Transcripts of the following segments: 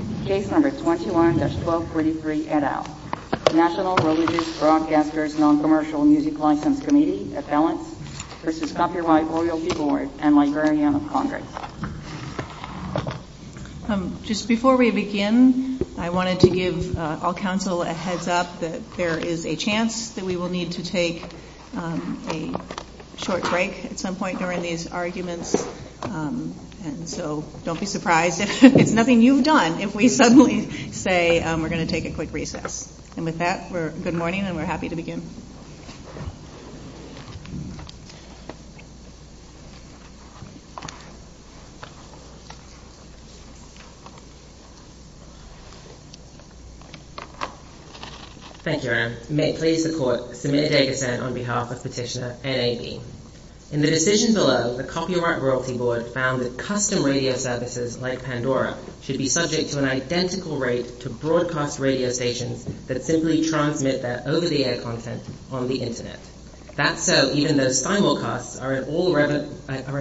No. 21-1233, et al. National Religious Broadcasters Noncommercial Music License Committee Appellant v. Copyright Royal Jewelry and Librarian of Congress. Just before we begin, I wanted to give all counsel a heads up that there is a chance that we will need to take a short break at some point during these arguments, so don't be surprised if it's nothing you've done if we suddenly say we're going to take a quick recess. And with that, good morning, and we're happy to begin. Thank you, Erin. May it please the Court, Samantha Jacobson on behalf of Petitioner NAB. In the decision below, the Copyright Royalty Board found that custom radio services like Pandora should be subject to an identical rate to broadcast radio stations that simply transmit their over-the-air content on the Internet. That's so even though simulcasts are in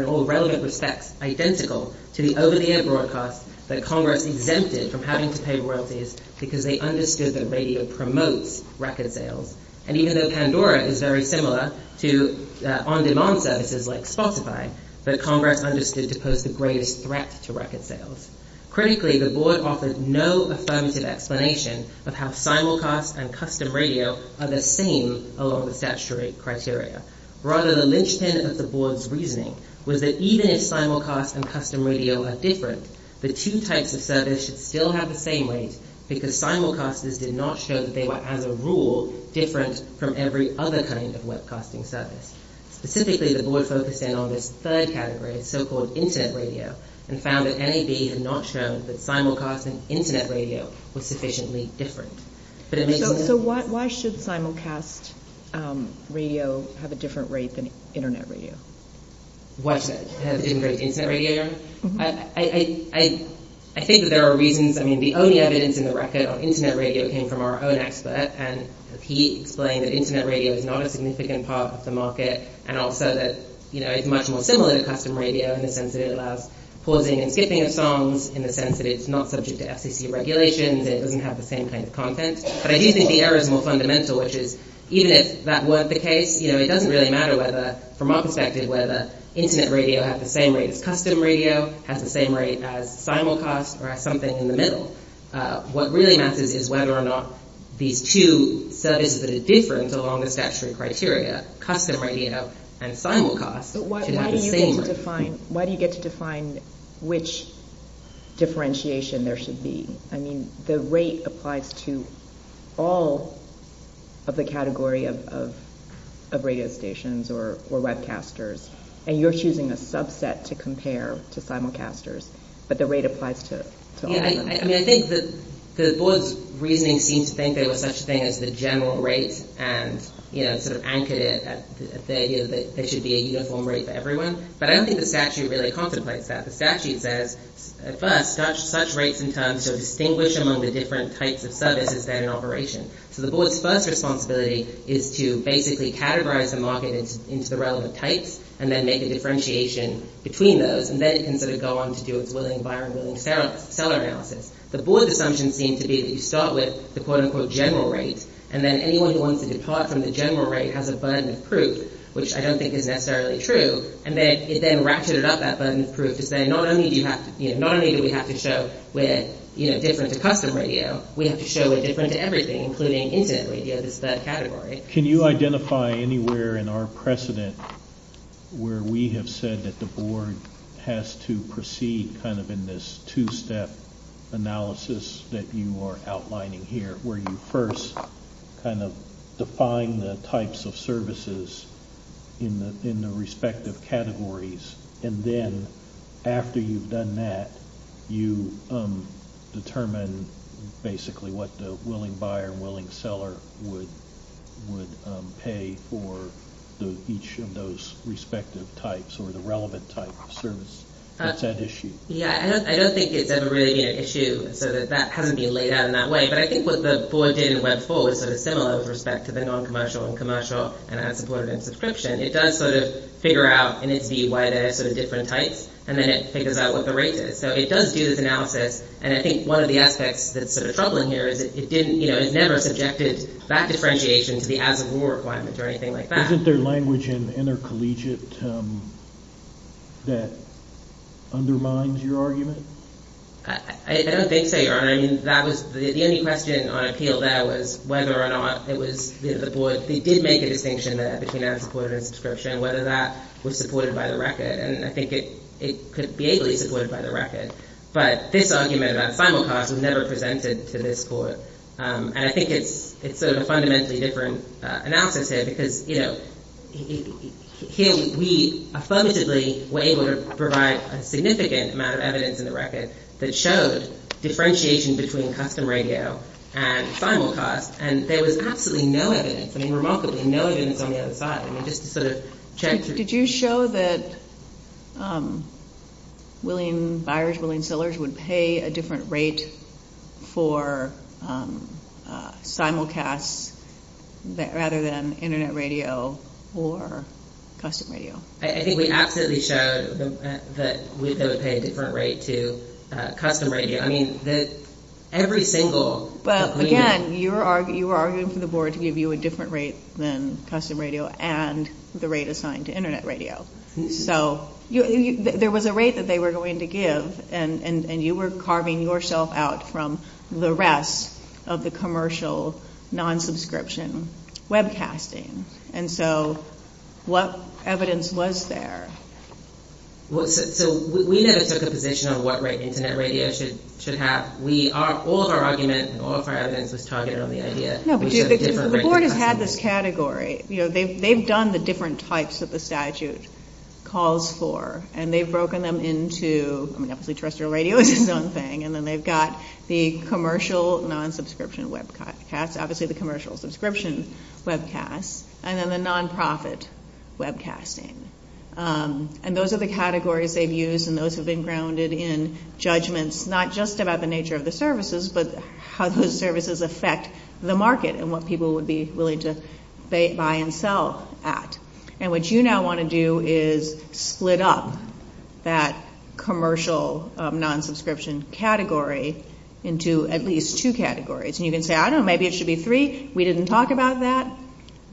all relevant respects identical to the over-the-air broadcasts that Congress exempted from having to pay royalties because they understood that record sales. And even though Pandora is very similar to on-demand services like Spotify, the Congress understood to pose the greatest threat to record sales. Critically, the Board offered no affirmative explanation of how simulcasts and custom radio are the same along the statutory criteria. Rather, the linchpin of the Board's reasoning was that even if simulcasts and custom radio are different, the two types of service should still have the same rate because simulcasts and custom radio services did not show that they were, as a rule, different from every other kind of webcasting service. Specifically, the Board focused in on this third category of so-called Internet radio and found that NAB had not shown that simulcasts and Internet radio were sufficiently different. So why should simulcast radio have a different rate than Internet radio? Why should it have a different rate than Internet radio? I think that there are reasons. I mean, the only evidence in the record on Internet radio came from our own expert, and he explained that Internet radio is not a significant part of the market, and also that it's much more similar to custom radio in the sense that it allows pausing and skipping of songs, in the sense that it's not subject to FCC regulations, and it doesn't have the same kind of content. But I do think the error is more fundamental, which is, even if that were the case, it doesn't really matter whether, from our perspective, whether Internet radio has the same rate as custom radio, has the same rate as simulcasts, or has something in the middle. What really matters is whether or not these two studies that are different, so long as that's your criteria, custom radio and simulcasts, can have the same rate. But why do you get to define which differentiation there should be? I mean, the rate applies to all of the category of radio stations or webcasters, and you're choosing a subset to compare to simulcasters, but the rate applies to all of them. Yeah, I mean, I think the board's reasoning seems to think there was such a thing as the general rate, and, you know, sort of anchored it at the idea that there should be a uniform rate for everyone. But I don't think the statute really contemplates that. The statute says, at first, such rates and terms are distinguished among the different types of service and standard operations. So the board's first responsibility is to basically categorize the market into the relevant types, and then make a differentiation between those. And then it can sort of go on to do its willing buyer and willing seller analysis. The board's assumptions seem to be that you start with the quote-unquote general rate, and then anyone who wants to depart from the general rate has a burden of proof, which I don't think is necessarily true. And then it then ratcheted up that burden of proof to say, not only do we have to show with, you know, different to custom radio, we have to show a different to everything, including, incidentally, the category. Can you identify anywhere in our precedent where we have said that the board has to proceed kind of in this two-step analysis that you are outlining here, where you first kind of define the types of services in the respective categories? And then, after you've done that, you determine, basically, what the willing buyer and willing seller would pay for each of those respective types or the relevant type of service. Is that an issue? Yeah. I don't think it really is an issue, so that hasn't been laid out in that way. But I think what the bulletin of Web 4 is sort of similar with respect to the non-commercial and commercial, and I have to put it in subscription. It does sort of figure out, in its D, why they have sort of different types, and then it figures out what the rate is. So it does do this analysis, and I think one of the aspects that's sort of troubling here is that it didn't, you know, it never subjected that differentiation to the as-of-rule requirements or anything like that. Isn't there language in intercollegiate that undermines your argument? I don't think they are. I mean, that was the only question on appeal there was whether or not it was, you know, the board, they did make a distinction there between as-reported and subscription, whether that was supported by the record, and I think it could be able to be supported by the record. But this argument about simulcast was never presented to this court, and I think it's sort of a fundamentally different analysis here because, you know, here we effectively were able to provide a significant amount of evidence in the record that showed differentiation between custom radio and simulcast, and there was absolutely no evidence. I mean, remarkably, no evidence on the other side. I mean, just to sort of check. Did you show that William Byers, William Sellers would pay a different rate for simulcast rather than internet radio or custom radio? I think we absolutely showed that we would pay a different rate to custom radio. I mean, every single... But, again, you were arguing for the board to give you a different rate than custom radio and the rate assigned to internet radio. So, there was a rate that they were going to give, and you were carving yourself out from the rest of the commercial non-subscription webcasting. And so, what evidence was there? So, we never took a position on what rate internet radio should have. All of our arguments and all of our evidence was targeted on the idea. No, but the board has had this category. You know, they've done the different types that the statute calls for, and they've broken them into, I mean, obviously, terrestrial radio is a known thing, and then they've got the commercial non-subscription webcast, obviously the commercial subscription webcast, and then the non-profit webcasting. And those are the categories they've used, and those have been grounded in judgments, not just about the nature of the services, but how those services affect the market and what people would be willing to buy and sell at. And what you now want to do is split up that commercial non-subscription category into at least two categories. And you can say, I don't know, maybe it should be three. We didn't talk about that.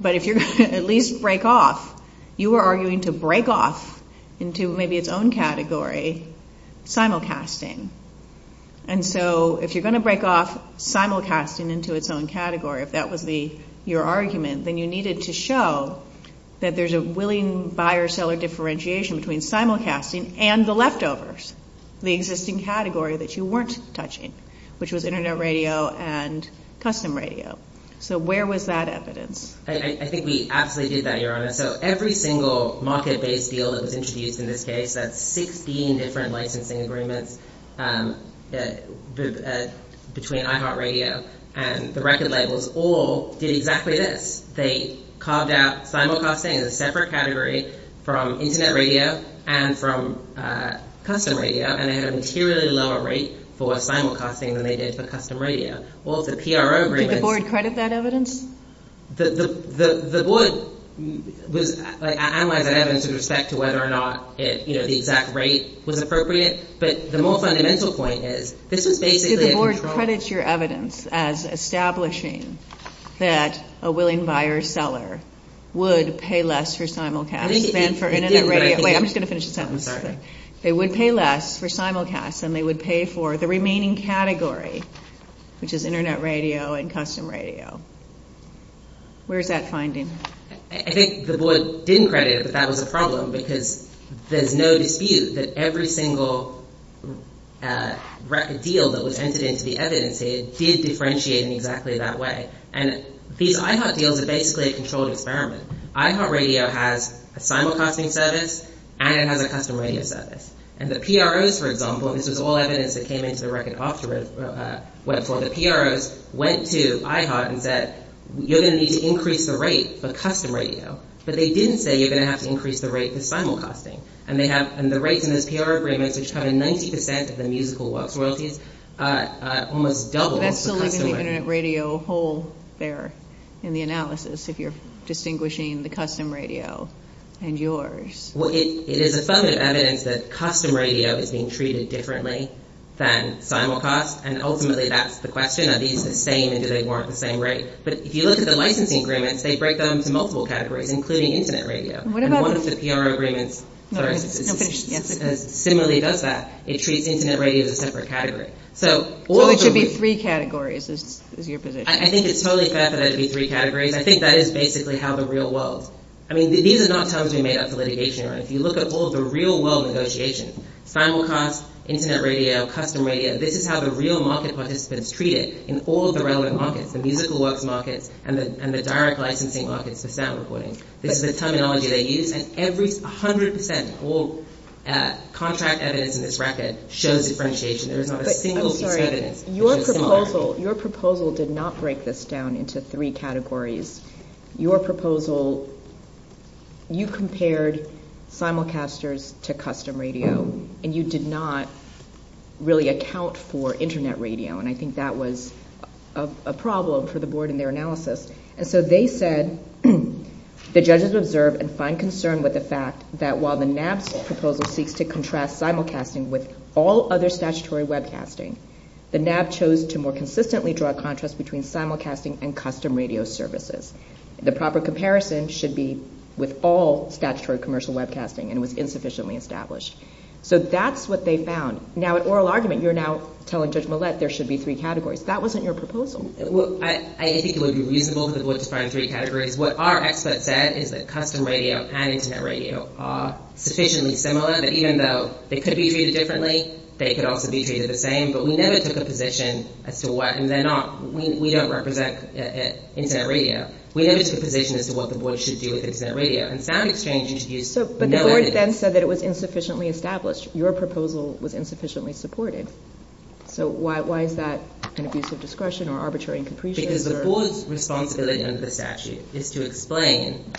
But if you're going to at least break off, you are arguing to break off into maybe its own category, simulcasting. And so, if you're going to break off simulcasting into its own category, if that would be your that there's a willing buyer-seller differentiation between simulcasting and the leftovers, the existing category that you weren't touching, which was internet radio and custom radio. So, where was that evidence? I think we absolutely did that, Your Honor. So, every single market-based deal that was introduced in this case, that 16 different licensing agreements between iHeartRadio and the record labels all did exactly this. They carved out simulcasting as a separate category from internet radio and from custom radio. And they had an inferiorly lower rate for simulcasting than they did for custom radio. Did the board credit that evidence? The board analyzed that evidence in respect to whether or not the exact rate was appropriate. But the more fundamental point is, this is basically a control. So, the board credits your evidence as establishing that a willing buyer-seller would pay less for simulcast than for internet radio. Wait, I'm just going to finish a sentence. They would pay less for simulcast than they would pay for the remaining category, which is internet radio and custom radio. Where is that finding? I think the board did credit that that was a problem because there's no dispute that every single record deal that was entered into the evidence did differentiate in exactly that way. And these iHeart deals are basically a controlled experiment. iHeartRadio has a simulcasting service and it has a custom radio service. And the PROs, for example, this is all evidence that came into the record office, went to the PROs, went to iHeart and said, you're going to need to increase the rate for custom radio. But they didn't say you're going to have to increase the rate for simulcasting. And the rates in the PRO agreements, which cover 90% of the musical works worthy, almost doubled. That's the link in the internet radio whole there in the analysis, if you're distinguishing the custom radio and yours. Well, it is a sum of evidence that custom radio is being treated differently than simulcast and ultimately that's the question. Are these the same and do they warrant the same rate? But if you look at the licensing agreements, they break them into multiple categories, including internet radio. And one of the PRO agreements similarly does that. It treats internet radio as a separate category. Or it could be three categories, is your position. I think it's totally fair for that to be three categories. I think that is basically how the real world... I mean, these are not terms we made up for litigation. If you look at all the real world negotiations, simulcast, internet radio, custom radio, this is how the real market participants treat it in all the relevant markets, the musical works markets and the direct licensing markets for sound recording. This is the terminology they use. And every 100% contract that is in this record shows differentiation. There's not a single... Your proposal did not break this down into three categories. Your proposal, you compared simulcasters to custom radio and you did not really account for internet radio. And I think that was a problem for the board in their analysis. And so they said, the judges observed and find concern with the fact that while the NAB's proposal seeks to contrast simulcasting with all other statutory webcasting, the NAB chose to more consistently draw a contrast between simulcasting and custom radio services. The proper comparison should be with all statutory commercial webcasting and was insufficiently established. So that's what they found. Now, in oral argument, you're now telling Judge Millett there should be three categories. That wasn't your proposal. I think it would be reasonable for the board to find three categories. What our expert said is that custom radio and internet radio are sufficiently similar that even though they could be treated differently, they could also be treated the same. But we never took a position as to what... And we don't represent internet radio. We never took a position as to what the board should do with internet radio. And sound exchanges used... But the board then said that it was insufficiently established. Your proposal was insufficiently supported. So why is that an abuse of discretion or arbitrary and capricious? Because the board's responsibility under the statute is to explain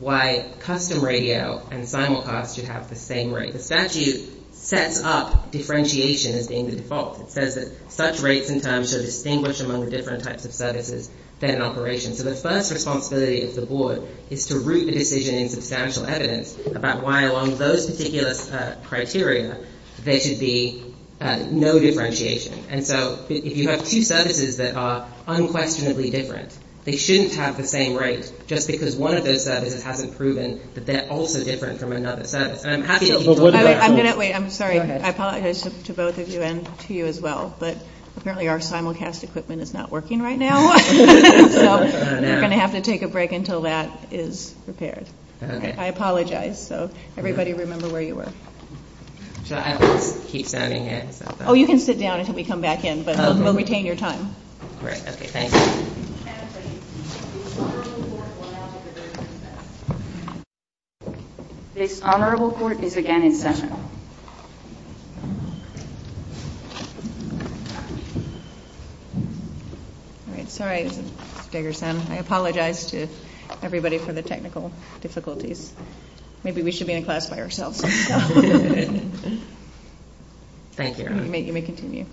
why custom radio and simulcast should have the same rate. The statute sets up differentiation as being the default. It says that such rates and times should distinguish among the different types of services that are in operation. So the first responsibility of the board is to root the decision in substantial evidence about why along those particular criteria there should be no differentiation. And so if you have two services that are unquestionably different, they shouldn't have the same rate just because one of those services hasn't proven that they're also different from another service. I'm happy to... Wait, I'm sorry. I apologize to both of you and to you as well. But apparently our simulcast equipment is not working right now. So we're going to have to take a break until that is prepared. I apologize. So everybody remember where you were. Should I keep standing in? Oh, you can sit down until we come back in. But we'll retain your time. Great. Okay. Thank you. This honorable court is again in session. All right. Sorry, Diggerson. I apologize to everybody for the technical difficulties. Maybe we should be in class by ourselves. Thank you. You may continue.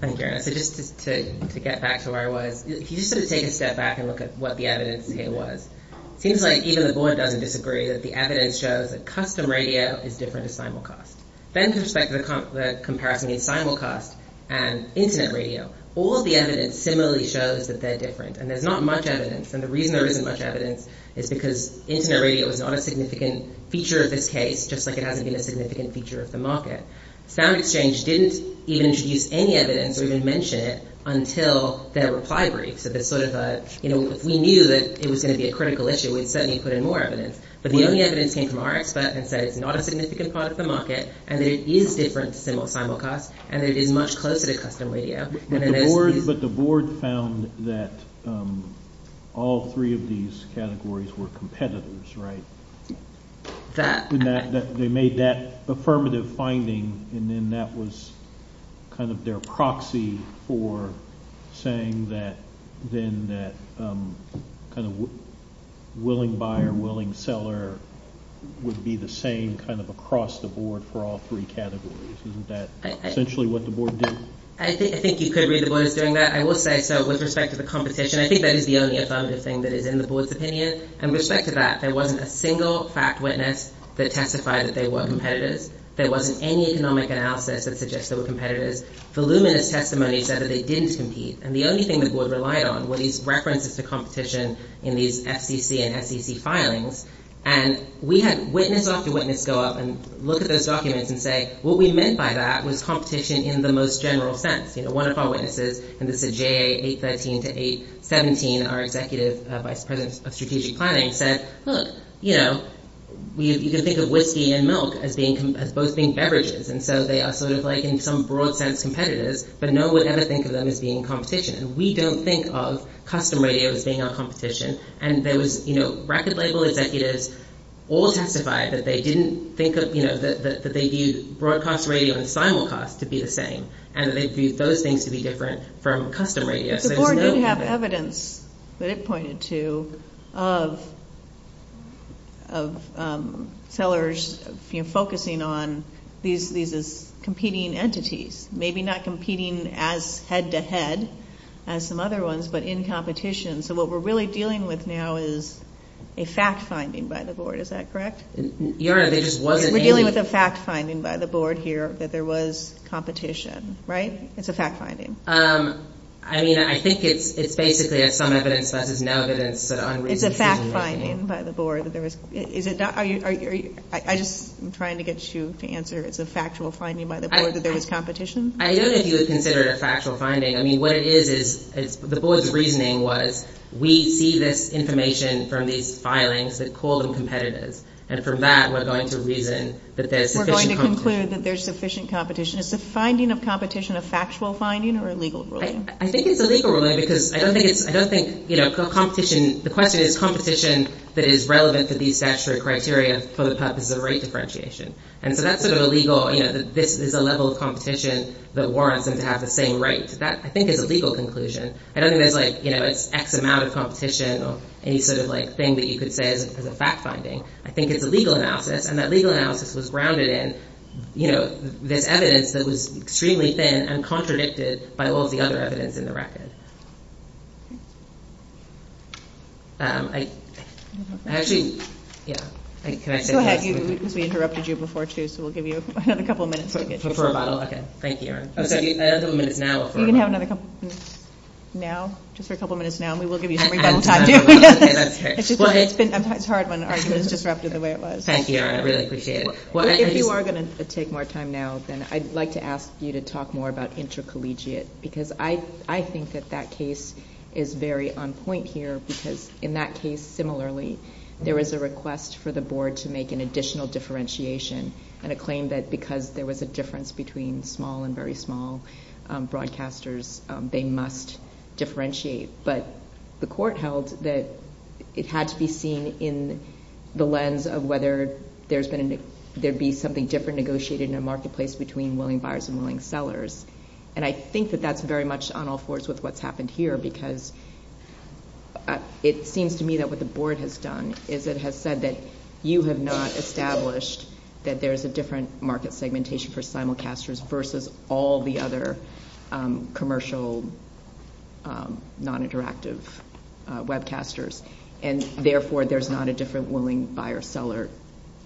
Thank you. So just to get back to where I was, if you just sort of take a step back and look at what the evidence was, it seems like even the board doesn't disagree that the evidence shows that custom radio is different than simulcast. Then to respect the comparison in simulcast and internet radio, all of the evidence similarly shows that they're different. And there's not much evidence. And the reason there isn't much evidence is because internet radio is not a significant feature of this case, just like it hasn't been a significant feature of the market. SoundExchange didn't even introduce any evidence or even mention it until their reply briefs. We knew that it was going to be a critical issue. We'd certainly put in more evidence. But the only evidence came from RxSat and said it's not a significant part of the market and there is difference in simulcast and it is much closer to custom radio. But the board found that all three of these categories were competitors, right? They made that affirmative finding and then that was kind of their proxy for saying that then that kind of willing buyer, willing seller would be the same kind of across the board for all three categories. Isn't that essentially what the board did? I think you could read the board as doing that. I will say so with respect to the competition. I think that is the only affirmative thing that is in the board's opinion. And with respect to that, there wasn't a single fact witness that testified that they were competitors. There wasn't any economic analysis that suggests they were competitors. The luminous testimony said that they didn't compete. And the only thing the board relied on were these references to competition in these FDC and FDC filings. And we had witness after witness go up and look at those documents and say, what we meant by that was competition in the most general sense. One of our witnesses, and this is JA 813 to 817, our executive vice president of strategic planning, said, look, you can think of whiskey and milk as both being beverages. And so they are sort of like in some broad sense competitors, but no one would ever think of them as being competition. And we don't think of custom radio as being our competition. And there was record label executives all testified that they didn't think of, that they viewed broadcast radio and simulcast to be the same, and that they viewed those things to be different from custom radio. But the board did have evidence that it pointed to of sellers focusing on these as competing entities, maybe not competing as head to head as some other ones, but in competition. So what we're really dealing with now is a fact finding by the board. Is that correct? We're dealing with a fact finding by the board here that there was competition. Right? It's a fact finding. I mean, I think it's basically some evidence, but there's no evidence that unreasonable reasoning. It's a fact finding by the board. I'm trying to get you to answer if it's a factual finding by the board that there was competition. I don't know if you would consider it a factual finding. I mean, what it is is the board's reasoning was, we see this information from these filings that call them competitive. And from that, we're going to reason that there's sufficient competition. We're going to conclude that there's sufficient competition. Is the finding of competition a factual finding or a legal ruling? I think it's a legal ruling because I don't think, you know, competition, the question is competition that is relevant to these statutory criteria for the purposes of rate differentiation. And so that's sort of illegal, you know, that this is a level of competition that warrants them to have the same rates. That, I think, is a legal conclusion. I don't think there's, like, you know, X amount of competition or any sort of, like, thing that you could say is a fact finding. I think it's a legal analysis. And that legal analysis was grounded in, you know, the evidence that was extremely thin and contradicted by all the other evidence in the record. Actually, yeah. Can I take that? Go ahead. We interrupted you before, too, so we'll give you another couple of minutes before we get to you. Before I bottle up? Okay. Thank you, Erin. Okay. I have a couple of minutes now. You can have another couple of minutes now, just for a couple of minutes now, and we will give you another couple of minutes. Okay. Okay. It's hard when arguments are interrupted the way it was. Thank you, Erin. I really appreciate it. If you are going to take more time now, then I'd like to ask you to talk more about intercollegiate because I think that that case is very on point here because in that case, similarly, there was a request for the board to make an additional differentiation and it claimed that because there was a difference between small and very small broadcasters, they must differentiate. But the court held that it had to be seen in the lens of whether there'd be something different negotiated in a marketplace between willing buyers and willing sellers. And I think that that's very much on all fours with what's happened here because it seems to me that what the board has done is it has said that you have not established that there's a different market segmentation for simulcasters versus all the other commercial non-interactive webcasters, and therefore, there's not a different willing buyer-seller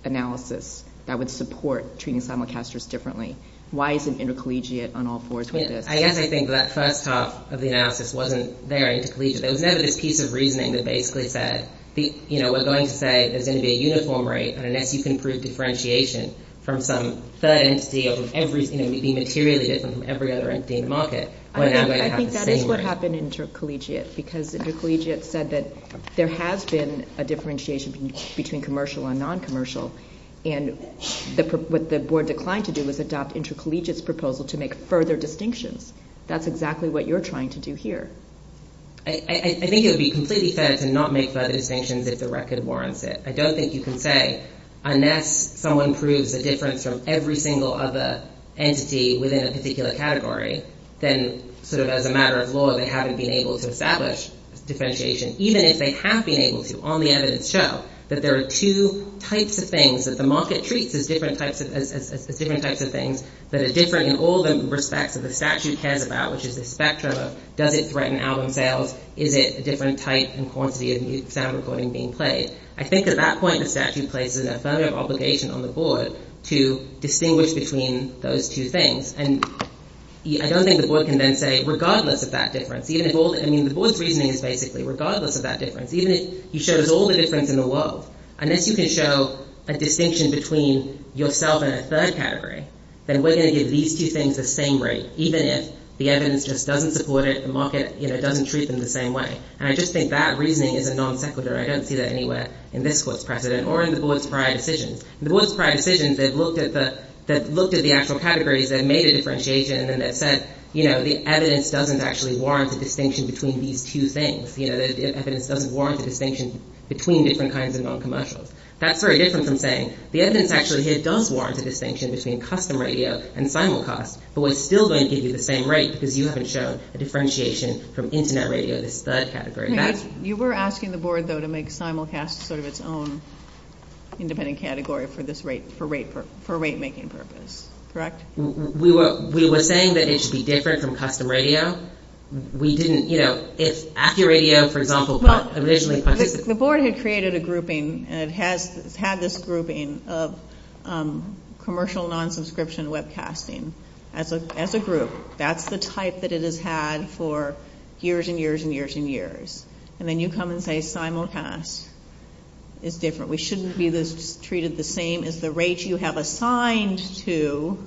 analysis that would support treating simulcasters differently. Why is it intercollegiate on all fours with this? I guess I think that first half of the analysis wasn't very intercollegiate. There was never this piece of reasoning that basically said, you know, we're going to say that there's going to be a uniform rate and an equity-approved differentiation from some sub-entity of every, you know, we see materially different from every other entity in the market. I think that is what happened intercollegiate because intercollegiate said that there has been a differentiation between commercial and non-commercial. And what the board declined to do was adopt intercollegiate's proposal to make further distinction. That's exactly what you're trying to do here. I think it would be completely fair to not make further distinctions if the record warrants it. I don't think you can say, unless someone proves the difference from every single other entity within a particular category, then sort of as a matter of law, they haven't been able to establish differentiation, even if they have been able to on the evidence show that there are two types of things that the market treats as different types of things that are different in all the respects that the statute cares about, which is the spectrum of does it threaten album sales, is it a different type and quantity of sound recording being played. I think at that point the statute places an affirmative obligation on the board to distinguish between those two things. And I don't think the board can then say, regardless of that difference, even if all the, I mean the board's reasoning is basically, regardless of that difference, even if you show us all the difference in the world, unless you can show a distinction between yourself and a third category, then we're going to give these two things the same rate, even if the evidence just doesn't support it, the market doesn't treat them the same way. And I just think that reasoning is a non-sequitur. I don't see that anywhere in this court's precedent or in the board's prior decisions. In the board's prior decisions, they've looked at the actual categories, they've made a differentiation and then they've said, you know, the evidence doesn't actually warrant a distinction between these two things. You know, the evidence doesn't warrant a distinction between different kinds of non-commercials. That's very different from saying, the evidence actually does warrant a distinction between custom radio and simulcast, but we're still going to give you the same rate because you haven't shown a differentiation from internet radio to third category. You were asking the board, though, to make simulcast sort of its own independent category for this rate, for rate making purposes. Correct? We were saying that it should be different from custom radio. We didn't, you know, if AccuRadio, for example, was originally... The board had created a grouping and it had this grouping of commercial non-subscription webcasting as a group. That's the type that it has had for years and years and years and years. And then you come and say simulcast is different. We shouldn't treat it the same as the rate you have assigned to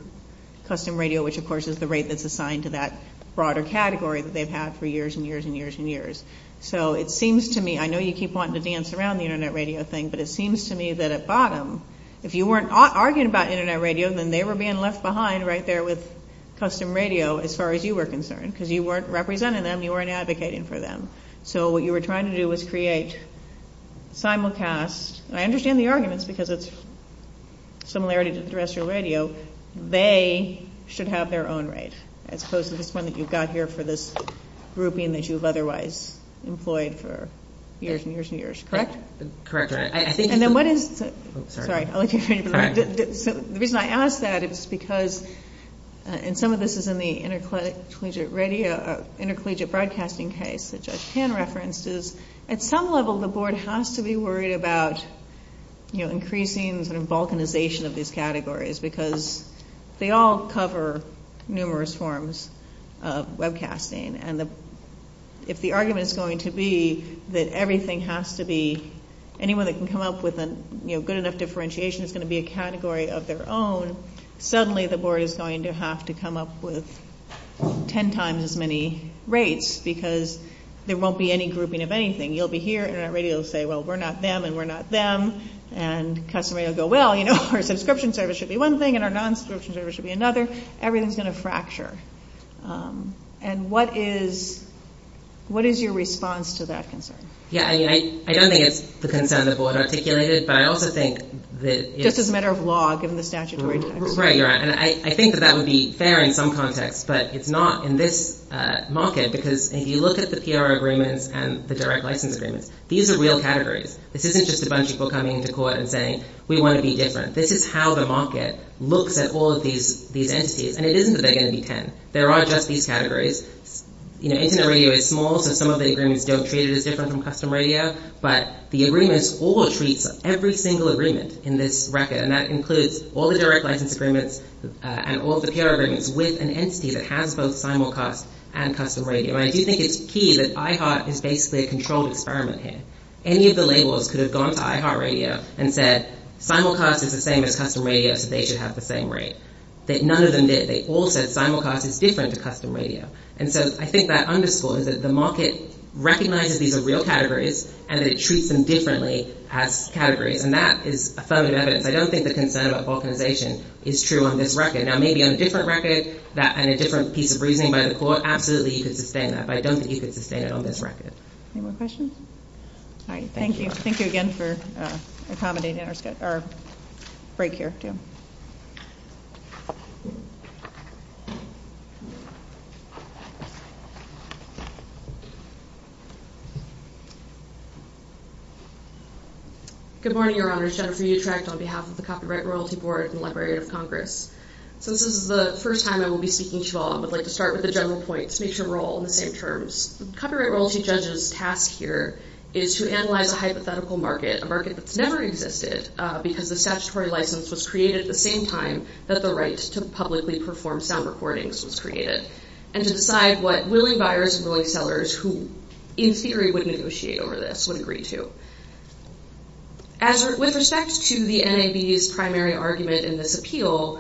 custom radio, which of course is the rate that's assigned to that broader category that they've had for years and years and years and years. So it seems to me, I know you keep wanting to dance around the internet radio thing, but it seems to me that at bottom, if you weren't arguing about internet radio, then they were being left behind right there with custom radio as far as you were concerned because you weren't representing them, you weren't advocating for them. So what you were trying to do was create simulcast. I understand the arguments because it's a similarity to the rest of your radio. They should have their own rate as opposed to the one that you've got here for this grouping that you've otherwise employed for years and years and years. Correct? Correct. And then what is... Sorry. The reason I ask that is because, and some of this is in the intercollegiate radio, intercollegiate broadcasting case, which has 10 references. At some level, the board has to be worried about increasing the balkanization of these categories because they all cover numerous forms of webcasting. And if the argument is going to be that everything has to be... Anyone that can come up with a good enough differentiation is going to be a category of their own. Suddenly, the board is going to have to come up with 10 times as many rates because there won't be any grouping of anything. You'll be here, internet radio will say, well, we're not them and we're not them. And custom radio will go, well, our subscription service should be one thing and our non-subscription service should be another. Everything's going to fracture. And what is your response to that concern? Yeah, I mean, I don't think it's the concern that the board articulated, but I also think that... Just as a matter of law, given the statutory... Right, you're right. And I think that that would be fair in some context, but it's not in this market because if you look at the PR agreements and the direct license agreements, these are real categories. This isn't just a bunch of people coming into court and saying, we want to be different. This is how the market looks at all of these entities. And it isn't that they're going to be 10. There are just these categories. Internet radio is small, so some of the agreements don't treat it as different from custom radio, but the agreements all treat every single agreement in this record, and that includes all the direct license agreements and all the PR agreements with an entity that has both simulcast and custom radio. And I do think it's key that iHeart is basically a controlled experiment here. Any of the labelers could have gone to iHeart Radio and said, simulcast is the same as custom radio, so they should have the same rate. None of them did. They all said simulcast is different to custom radio. And so I think that underscore is that the market recognizes these are real categories and that it treats them differently as categories. And that is a solid evidence. I don't think the concern about falsification is true on this record. Now, maybe on a different record and a different piece of reasoning by the court, absolutely you could sustain that, but I don't think you could sustain it on this record. Any more questions? All right. Thank you. Thank you again for accommodating our break here. Good morning, Your Honor. Jennifer Utrecht on behalf of the Copyright and Royalty Board and the Library of Congress. This is the first time I will be speaking to you all. I would like to start with a general point to make sure we're all on the same terms. The Copyright and Royalty judges' task here is to analyze a hypothetical market, a market that's never existed because the statutory license was created at the same time that the right to publicly perform sound recordings was created, and to decide what willing buyers and willing sellers who, in theory, would negotiate over this, would agree to. With respect to the NAB's primary argument in this appeal,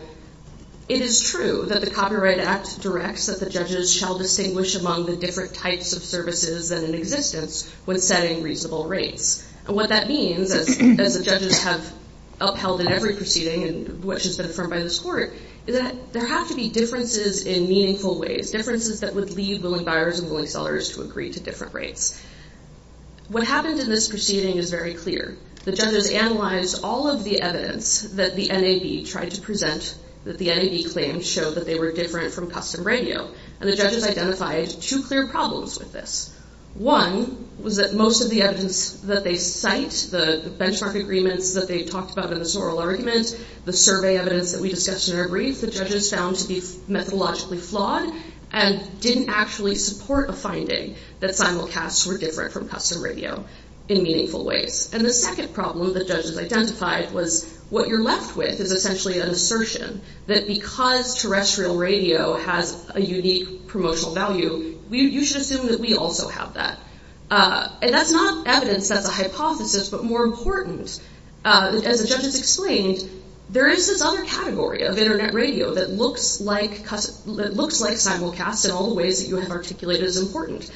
it is true that the Copyright Act directs that the judges shall distinguish among the different types of services that are in existence when setting reasonable rates. What that means, as the judges have upheld in every proceeding and which has been affirmed by this court, is that there have to be differences in meaningful ways, differences that would lead willing buyers and willing sellers to agree to different rates. What happens in this proceeding is very clear. The judges analyze all of the evidence that the NAB tried to present that the NAB claims showed that they were different from custom radio, and the judges identified two clear problems with this. One was that most of the evidence that they cite, the benchmark agreements that they talked about in this oral argument, the survey evidence that we discussed in our brief, the judges found to be methodologically flawed and didn't actually support a finding that simulcasts were different from custom radio in meaningful ways. And the second problem that judges identified was what you're left with is essentially an extraterrestrial radio has a unique promotional value. You should assume that we also have that. And that's not evidence that's a hypothesis, but more important, as the judges explained, there is this other category of internet radio that looks like simulcasts in all the ways that you have articulated as important.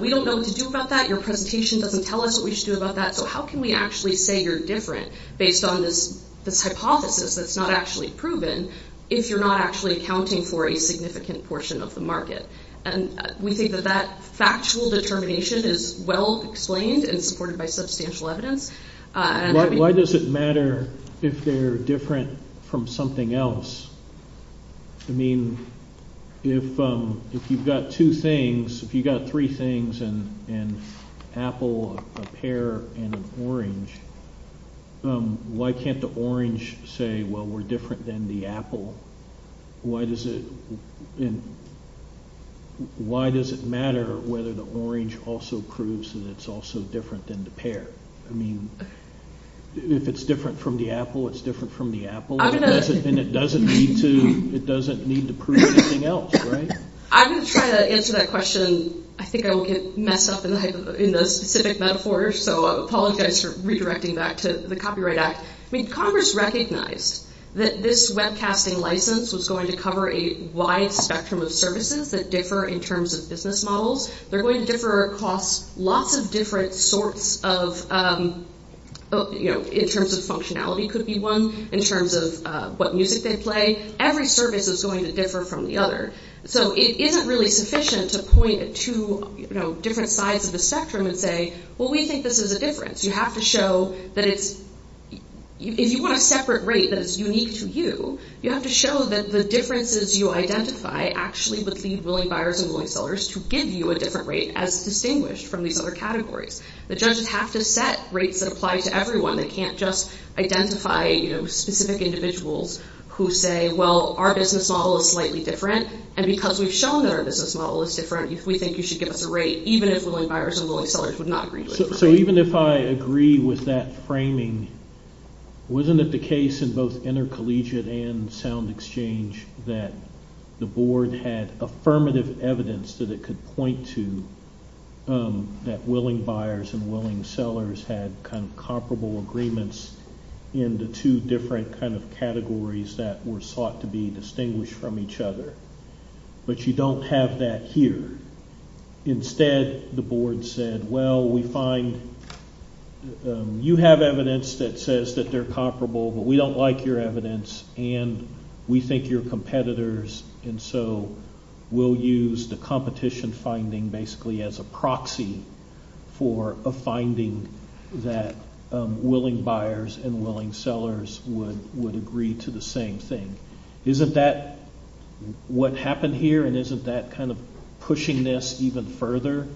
We don't know what to do about that. Your presentation doesn't tell us what we should do about that, so how can we actually say you're different based on this hypothesis that's not actually proven if you're not actually accounting for a significant portion of the market? And we think that that factual determination is well explained and supported by substantial evidence. Why does it matter if they're different from something else? I mean, if you've got two things, if you've got three things, an apple, a pear, and an orange, why does it matter whether the orange also proves that it's also different than the pear? I mean, if it's different from the apple, it's different from the apple, and it doesn't need to prove anything else, right? I'm going to try to answer that question. I think I will get messed up in the specific metaphors, so I apologize for redirecting that to the Copyright Act. I mean, Congress recognized that this webcasting license was going to cover a wide spectrum of services that differ in terms of business models. They're going to differ across lots of different sorts of, you know, in terms of functionality could be one, in terms of what music they play. Every service is going to differ from the other, so it isn't really sufficient to point at two, you know, different sides of the spectrum and say, well, we think this is a difference. You have to show that if you want a separate rate that is unique to you, you have to show that the differences you identify actually would lead willing buyers and willing sellers to give you a different rate as distinguished from these other categories. The judges have to set rates that apply to everyone. They can't just identify, you know, specific individuals who say, well, our business model is slightly different, and because we've shown that our business model is different, we think you should give us a rate, even if willing buyers and willing sellers would not agree with it. So even if I agree with that framing, wasn't it the case in both intercollegiate and sound exchange that the board had affirmative evidence that it could point to that willing buyers and willing sellers had kind of comparable agreements in the two different kind of categories that were sought to be distinguished from each other? But you don't have that here. Instead, the board said, well, we find you have evidence that says that they're comparable, but we don't like your evidence, and we think you're competitors, and so we'll use the competition finding basically as a proxy for a finding that willing buyers and willing sellers would agree to the same thing. Isn't that what happened here, and isn't that kind of pushing this even further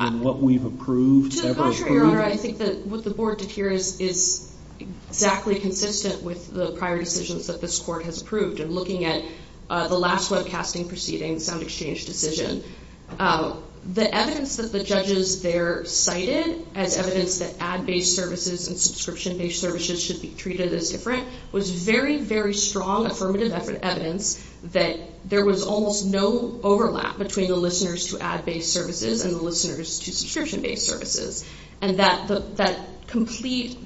in what we've approved? To the contrary, Earl, I think that what the board did here is exactly consistent with the prior decisions that this court has approved in looking at the last webcasting proceeding, the sound exchange decision. The evidence that the judges there cited as evidence that ad-based services and subscription-based services should be treated as different was very, very strong affirmative evidence that there was almost no overlap between the listeners to ad-based services and the listeners to subscription-based services, and that complete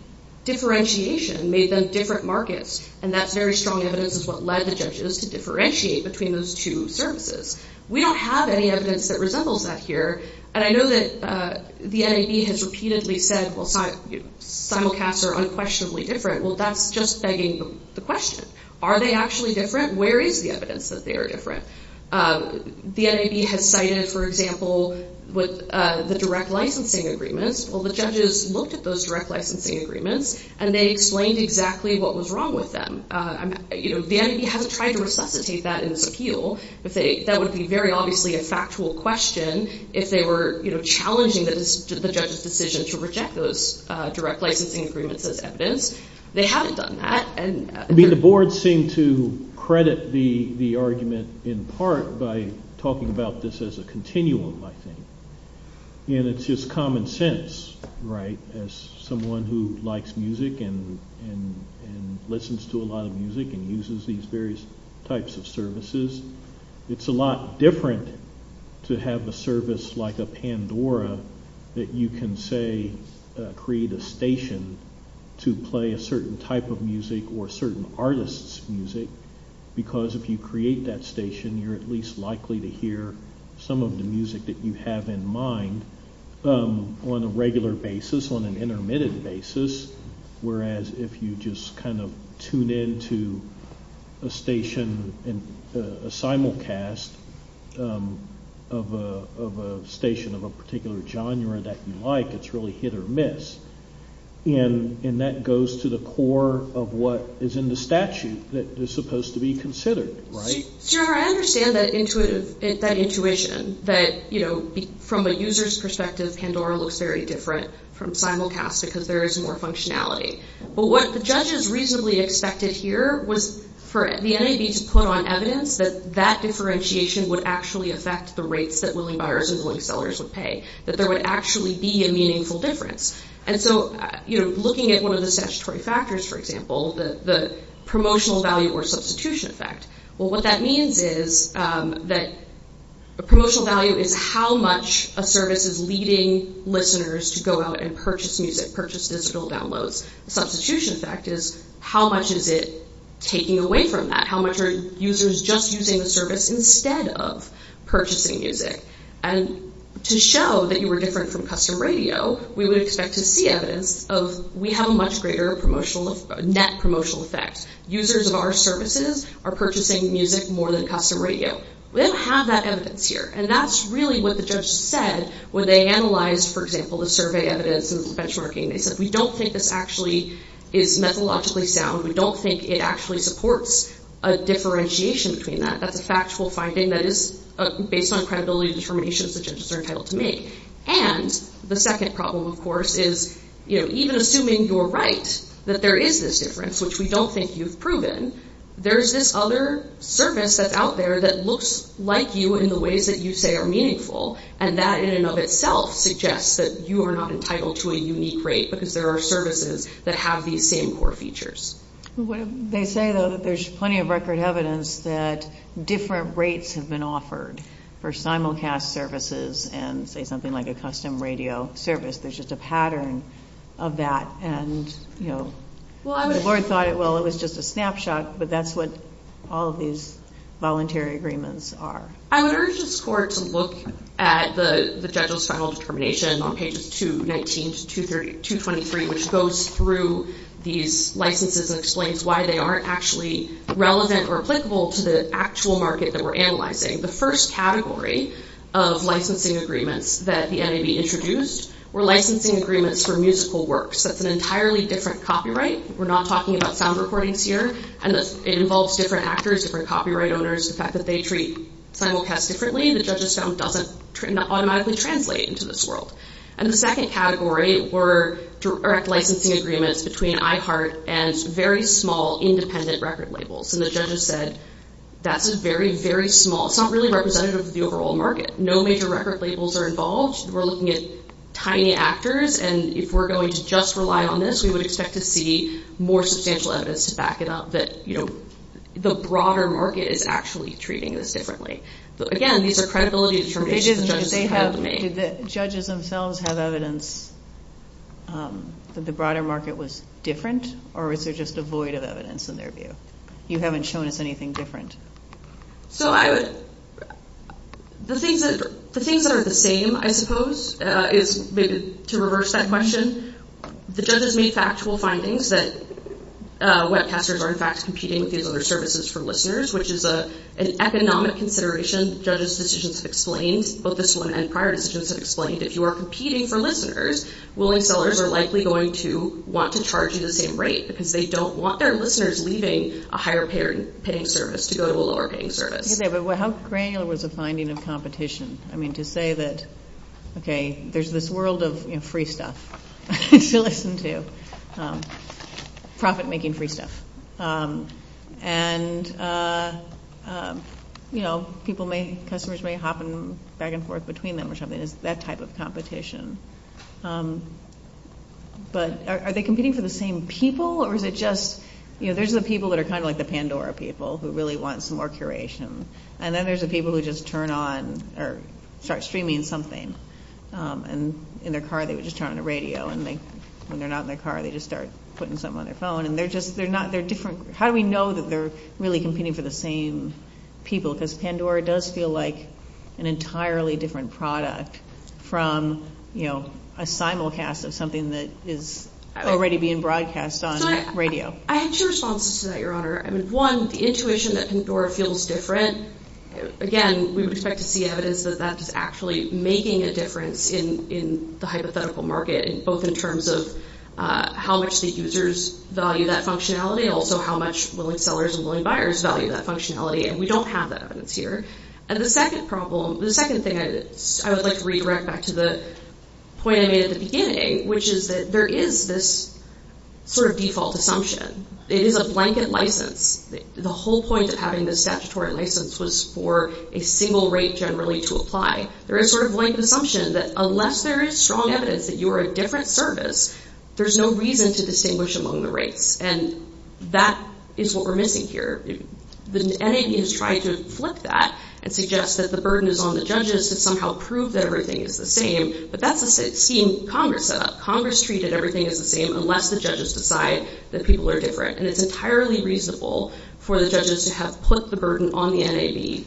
differentiation made them different markets, and that very strong evidence is what led the judges to differentiate between those two services. We don't have any evidence that resembles that here, and I know that the NAB has repeatedly said, well, simulcasts are unquestionably different. Well, that's just begging the question. Are they actually different? Where is the evidence that they are different? The NAB had cited, for example, the direct licensing agreements. Well, the judges looked at those direct licensing agreements, and they explained exactly what was wrong with them. The NAB hadn't tried to resuscitate that in this appeal. That would be very obviously a factual question if they were challenging the judge's decision to reject those direct licensing agreements as evidence. They haven't done that. I mean, the board seemed to credit the argument in part by talking about this as a continuum, I think, and it's just common sense, right, as someone who likes music and listens to a lot of music and uses these various types of services. It's a lot different to have a service like a Pandora that you can, say, create a station to play a certain type of music or a certain artist's music, because if you create that station, you're at least likely to hear some of the music that you have in mind on a regular basis, on an intermittent basis, whereas if you just kind of tune into a station, a simulcast of a station of a particular genre that you like, it's really hit or miss. And that goes to the core of what is in the statute that is supposed to be considered, right? Sure, I understand that intuition, that, you know, from a user's perspective, Pandora looks very different from simulcast because there is more functionality. But what the judges reasonably expected here was for the NAB to put on evidence that that differentiation would actually affect the rates that loan buyers and loan sellers would pay, that there would actually be a meaningful difference. And so, you know, looking at one of the statutory factors, for example, the promotional value or substitution effect, well, what that means is that promotional value is how much a service is leading listeners to go out and purchase music, purchase digital downloads. Substitution effect is how much is it taking away from that? How much are users just using the service instead of purchasing music? And to show that you were different from custom radio, we would expect to see evidence of we have a much greater promotional, net promotional effect. Users of our services are purchasing music more than custom radio. We don't have that evidence here. And that's really what the judges said when they analyzed, for example, the survey evidence and the benchmarking. They said, we don't think this actually is methodologically sound. We don't think it actually supports a differentiation between that. That's a factual finding that is based on credibility and determination that the judges are entitled to make. And the second problem, of course, is, you know, even assuming you're right, that there is this difference, which we don't think you've proven, there's this other service that's out there that looks like you in the ways that you say are meaningful. And that in and of itself suggests that you are not entitled to a unique rate because there are services that have these same core features. They say, though, that there's plenty of record evidence that different rates have been offered for simulcast services and, say, something like a custom radio service. There's just a pattern of that. And, you know, the board thought, well, it was just a snapshot. But that's what all of these voluntary agreements are. I would urge this court to look at the judge's final determination on pages 219 to 223, which goes through these licenses and explains why they aren't actually relevant or applicable to the actual market that we're analyzing. The first category of licensing agreements that the NAB introduced were licensing agreements for musical works. That's an entirely different copyright. We're not talking about sound recordings here. And it involves different actors, different copyright owners, the fact that they treat simulcast differently. The judges found that doesn't automatically translate into this world. And the second category were direct licensing agreements between iHeart and very small independent record labels. And the judges said, that's just very, very small. It's not really representative of the overall market. No major record labels are involved. We're looking at tiny actors. And if we're going to just rely on this, we would expect to see more substantial evidence to back it up that, you know, the broader market is actually treating this differently. But, again, these are credibility information that they have made. Do the judges themselves have evidence that the broader market was different? Or is there just a void of evidence in their view? You haven't shown us anything different. So I would... The things that are the same, I suppose, is to reverse that question, the judges made factual findings that webcasters are in fact competing with these other services for listeners, which is an economic consideration. Judges' decisions have explained, both this one and prior decisions have explained, if you are competing for listeners, willing sellers are likely going to want to charge you the same rate because they don't want their listeners leaving a higher-paying service to go to a lower-paying service. How granular was the finding of competition? I mean, to say that, okay, there's this world of free stuff to listen to, profit-making free stuff. And, you know, people may, customers may hop back and forth between them or something. It's that type of competition. But are they competing for the same people? Or is it just... You know, there's the people that are kind of like the Pandora people who really want some more curation. And then there's the people who just turn on or start streaming something. And in their car, they would just turn on the radio. And when they're not in their car, they just start putting something on their phone. And they're just... They're not... They're different... How do we know that they're really competing for the same people? Because Pandora does feel like an entirely different product from, you know, a simulcast of something that is already being broadcast on radio. I have two responses to that, Your Honor. I mean, one, the intuition that Pandora feels different. Again, we would expect to see evidence that that's actually making a difference in the hypothetical market, both in terms of how much the users value that functionality and also how much willing sellers and willing buyers value that functionality. And we don't have that evidence here. And the second problem... The second thing I would like to redirect back to the point I made at the beginning, which is that there is this sort of default assumption. It is a blanket license. The whole point of having this statutory license was for a single rate generally to apply. There is sort of a blank assumption that unless there is strong evidence that you are a different service, there's no reason to distinguish among the rates. And that is what we're missing here. The NAB is trying to flip that and suggest that the burden is on the judges to somehow prove that everything is the same. But that's a scheme Congress set up. Congress treated everything as the same unless the judges decide that people are different. And it's entirely reasonable for the judges to have put the burden on the NAB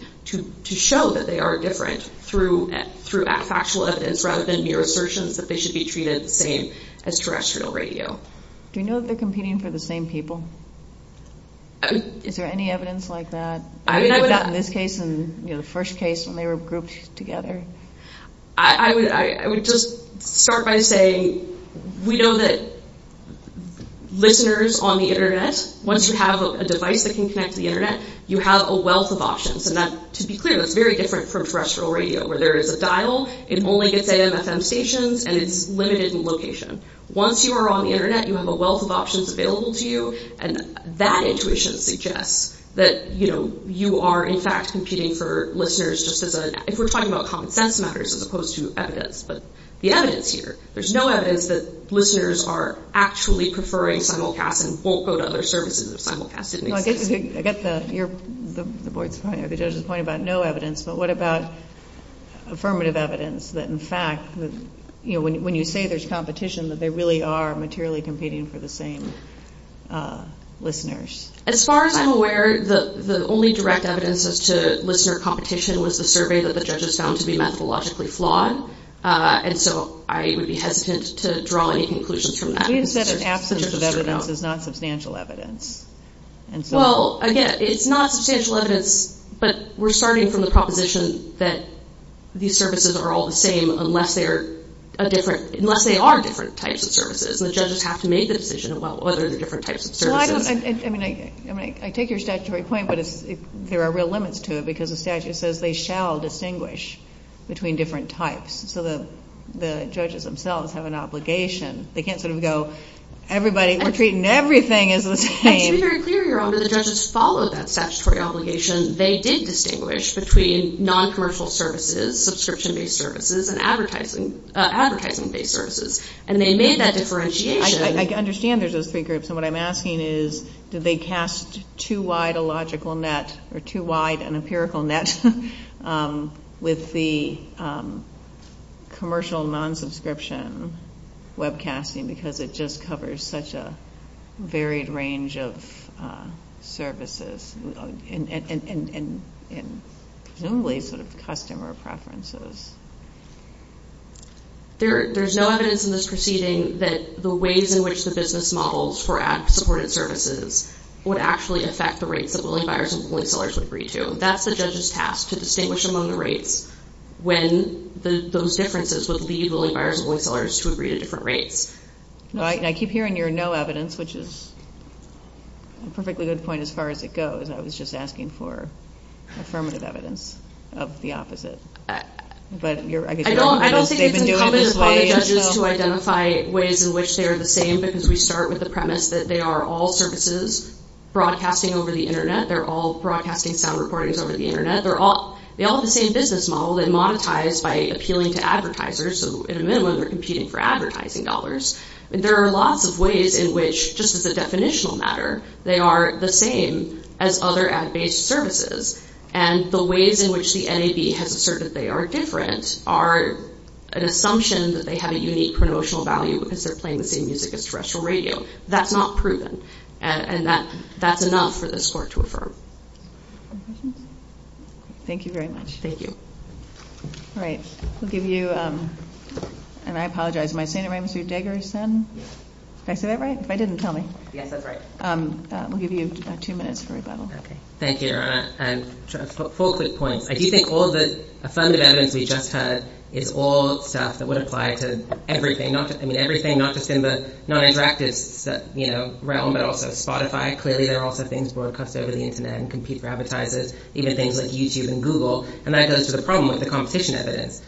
to show that they are different through factual evidence rather than mere assertions that they should be treated the same as terrestrial radio. Do you know if they're competing for the same people? Is there any evidence like that? We've never gotten this case, the first case, when they were grouped together. I would just start by saying we know that listeners on the Internet, once you have a device that can connect to the Internet, you have a wealth of options. And to be clear, that's very different from terrestrial radio where there is a dial, it only gets at an FM station, and it's limited in location. Once you are on the Internet, you have a wealth of options available to you, and that intuition suggests that you are, in fact, competing for listeners just as a, if we're talking about common sense matters as opposed to evidence. But the evidence here, there's no evidence that listeners are actually preferring simulcast and won't go to other services if simulcast is made. I get the point about no evidence, but what about affirmative evidence that, in fact, when you say there's competition, that they really are materially competing for the same listeners? As far as I'm aware, the only direct evidence as to listener competition was the survey that the judges found to be methodologically flawed, and so I would be hesitant to draw any conclusions from that. You said an absence of evidence is not substantial evidence. Well, again, it's not substantial evidence, but we're starting from the proposition that these services are all the same unless they are different types of services, and the judges have to make the decision, well, what are the different types of services? Well, I mean, I take your statutory point, but there are real limits to it because the statute says they shall distinguish between different types, so the judges themselves have an obligation. They can't sort of go, everybody, we're treating everything as the same. It's very clear here, although the judges follow that statutory obligation, they did distinguish between noncommercial services, subscription-based services, and advertising-based services, and they made that differentiation. I understand there's a figure, so what I'm asking is, did they cast too wide a logical net or too wide an empirical net with the commercial non-subscription webcasting because it just covers such a varied range of services, and only sort of customer preferences? There's no evidence in this proceeding that the ways in which the business models for ad-supported services would actually affect the rates that willing buyers and willing sellers would agree to. That's the judge's task, to distinguish among the rates when those differences would lead All right, and I keep hearing your no evidence, which is a perfectly good point as far as it goes. I was just asking for affirmative evidence of the opposite. I don't think it's going to come as a surprise to judges who identify ways in which they are the same because we start with the premise that they are all services broadcasting over the Internet. They're all broadcasting sound recordings over the Internet. They all have the same business model. They're all then monetized by appealing to advertisers, so in a minute we're competing for advertising dollars. There are lots of ways in which, just as a definitional matter, they are the same as other ad-based services, and the ways in which the NAB has asserted they are different are an assumption that they have a unique promotional value because they're playing the same music as terrestrial radio. That's not proven, and that's enough for this court to affirm. Thank you very much. Thank you. All right. We'll give you, and I apologize, am I saying it right, Mr. Degary's son? Did I say that right? If I didn't, tell me. Yes, that's right. We'll give you about two minutes for rebuttal. Okay. Thank you, and just a full quick point. I do think all the affirmative evidence we just had is all stuff that would apply to everything, not just in the non-interactive realm, but also Spotify. Clearly, there are also things broadcast over the Internet and compete for advertisers, even things like YouTube and Google, and that goes to the problem of the competition evidence.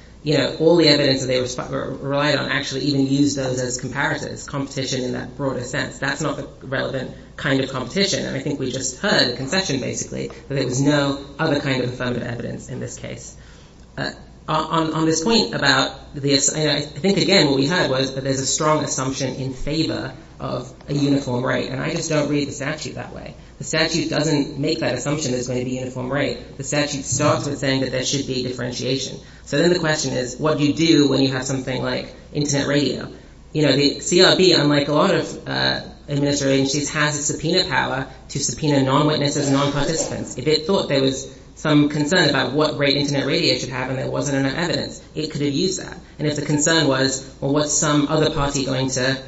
All the evidence that they relied on actually even used those as comparisons, competition in that broadest sense. That's not a relevant kind of competition. I think we just heard a concession, basically, that there's no other kind of affirmative evidence in this case. On this point about this, I think, again, what we heard was that there's a strong assumption in favor of a uniform rate, and I just don't read the statute that way. The statute doesn't make that assumption that there's going to be a uniform rate. The statute starts with saying that there should be a differentiation. So then the question is, what do you do when you have something like Internet radio? You know, the CRB, under Michael Arnott's administration, has the subpoena power to subpoena non-witnesses and non-participants. If it thought there was some concern about what rate Internet radio should have and there wasn't enough evidence, it could have used that. And if the concern was, well, what's some other party going to,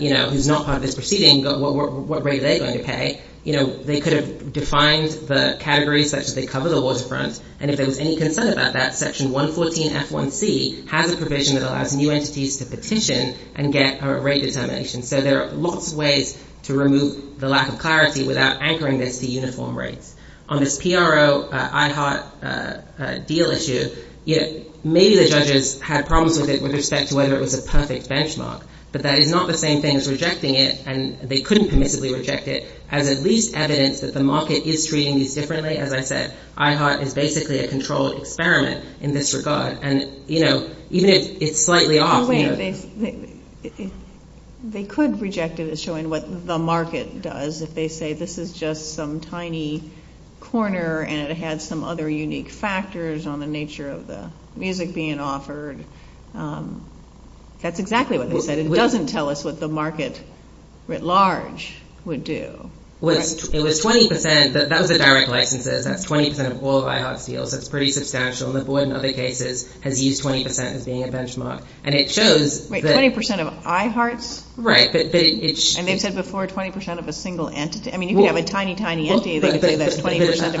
you know, who's not part of this proceeding, what rate are they going to pay? You know, they could have defined the category such that they cover the waterfront, and if there was any concern about that, Section 114F1C has a provision that allows new entities to petition and get a rate determination. So there are lots of ways to remove the lack of clarity without anchoring this to uniform rates. On the PRO-IHART deal issue, you know, maybe the judges had problems with it with respect to whether it was a perfect benchmark, but that is not the same thing as rejecting it, and they couldn't permissively reject it as at least evidence that the market is treating these differently. As I said, IHART is basically a controlled experiment in this regard. And, you know, even if it's slightly off, you know... They could reject it as showing what the market does. If they say this is just some tiny corner and it has some other unique factors on the nature of the music being offered, that's exactly what they said. It doesn't tell us what the market writ large would do. Well, it was 20 percent. That was a direct license. That's 20 percent of all IHART deals. That's pretty substantial. And the board, in other cases, has used 20 percent as being a benchmark. And it shows... Wait, 20 percent of IHARTs? Right. And they said before 20 percent of a single entity. I mean, if you have a tiny, tiny entity, they would say that 20 percent...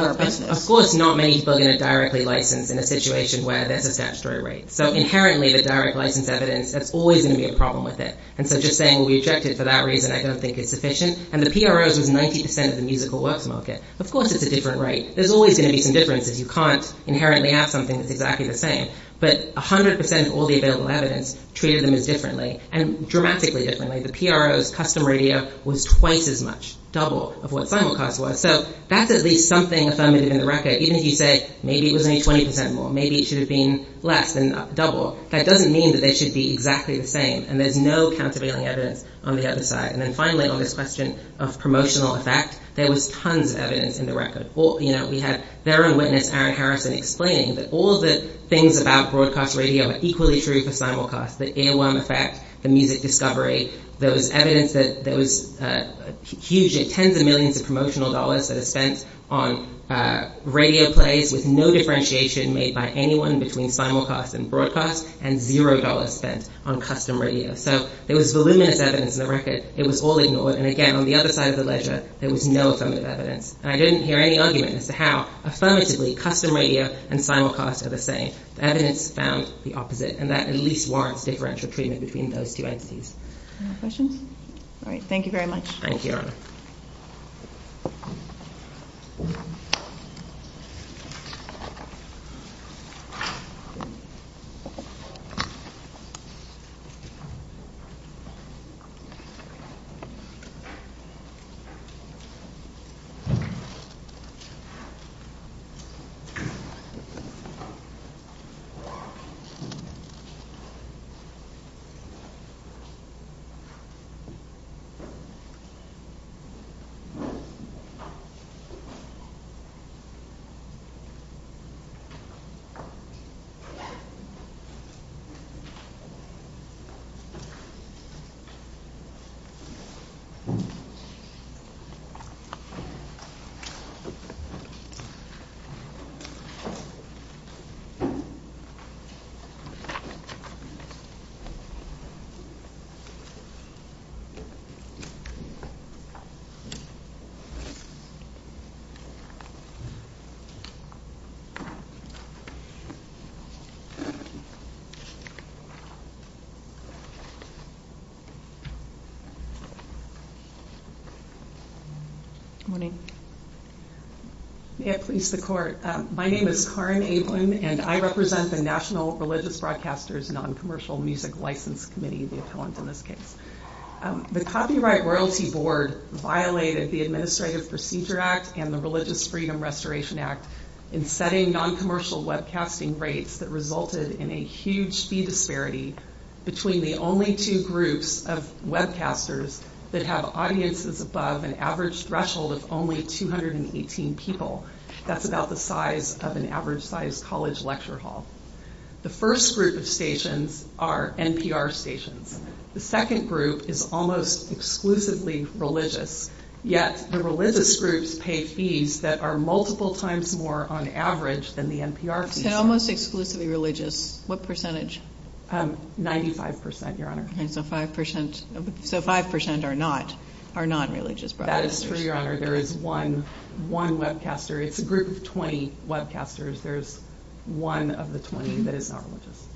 Of course, not many people are going to directly license in a situation where there's a statutory rate. So, inherently, the direct license evidence, there's always going to be a problem with it. And so just saying we reject it for that reason, I don't think it's sufficient. And the PRO is 90 percent of the musical work market. Of course, it's a different rate. There's always going to be some differences. You can't inherently have something that's exactly the same. But 100 percent of all the available evidence treated them as differently, and dramatically differently. The PRO's custom radio was twice as much, double of what Simulcast was. So, that's at least something that's omitted in the record. Even if you say, maybe it was only 20 percent more. Maybe it should have been less and double. That doesn't mean that they should be exactly the same. And there's no countervailing evidence on the other side. And then finally, on this question of promotional effect, there was tons of evidence in the record. We had therein witness Aaron Harrison explaining that all the things about broadcast radio are equally true for Simulcast. The earworm effect, the music discovery, there was evidence that there was tens of millions of promotional dollars that are spent on radio plays with no differentiation made by anyone between Simulcast and broadcast, and zero dollars spent on custom radio. So, there was voluminous evidence in the record. It was all ignored. And again, on the other side of the ledger, there was no affirmative evidence. And I didn't hear any argument as to how, affirmatively, custom radio and Simulcast are the same. Evidence found the opposite, and that at least warrants differential treatment between those two entities. Any more questions? All right. Thank you very much. Thank you. Thank you. Thank you. Good morning. May it please the court. My name is Karin Ablen, and I represent the National Religious Broadcasters Non-Commercial Music License Committee, as they call them in this case. The Copyright Royalty Board violated the Administrative Procedure Act and the Religious Freedom Restoration Act in setting non-commercial webcasting rates that resulted in a huge fee disparity between the only two groups of webcasters that have audiences above an average threshold of only 218 people. That's about the size of an average-sized college lecture hall. The first group of stations are NPR stations. The second group is almost exclusively religious, yet the religious groups pay fees that are multiple times more on average than the NPR fees. They're almost exclusively religious. What percentage? 95%, Your Honor. So 5% are not religious broadcasters. That is true, Your Honor. There is one webcaster. It's a group of 20 webcasters. There's one of the 20 that is not religious.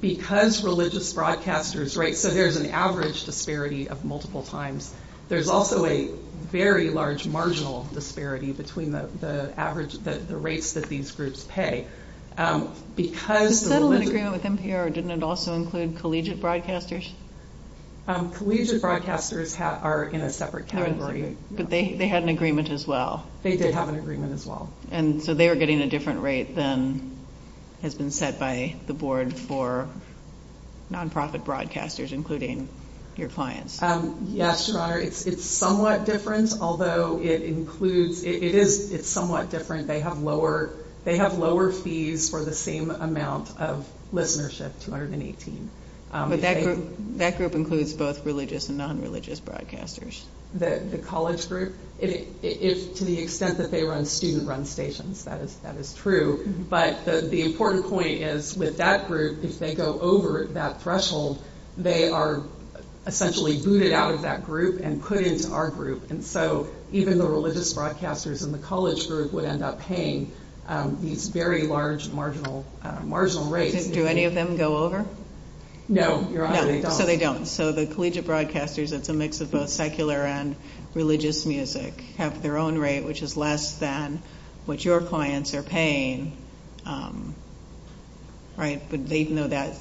Because religious broadcasters rate, so there's an average disparity of multiple times. There's also a very large marginal disparity between the rates that these groups pay. Does that have an agreement with NPR, or didn't it also include collegiate broadcasters? Collegiate broadcasters are in a separate category. But they had an agreement as well. They did have an agreement as well. So they're getting a different rate than has been set by the board for nonprofit broadcasters, including your clients. Yes, Your Honor. It's somewhat different, although it includes, it is somewhat different. They have lower fees for the same amount of listenership, 218. But that group includes both religious and nonreligious broadcasters. The college group? To the extent that they run student-run stations, that is true. But the important point is, with that group, if they go over that threshold, they are essentially booted out of that group and put into our group. And so even the religious broadcasters and the college groups would end up paying these very large marginal rates. Do any of them go over? No, Your Honor, they don't. So they don't. So the collegiate broadcasters, it's a mix of both secular and religious music, have their own rate, which is less than what your clients are paying, right? But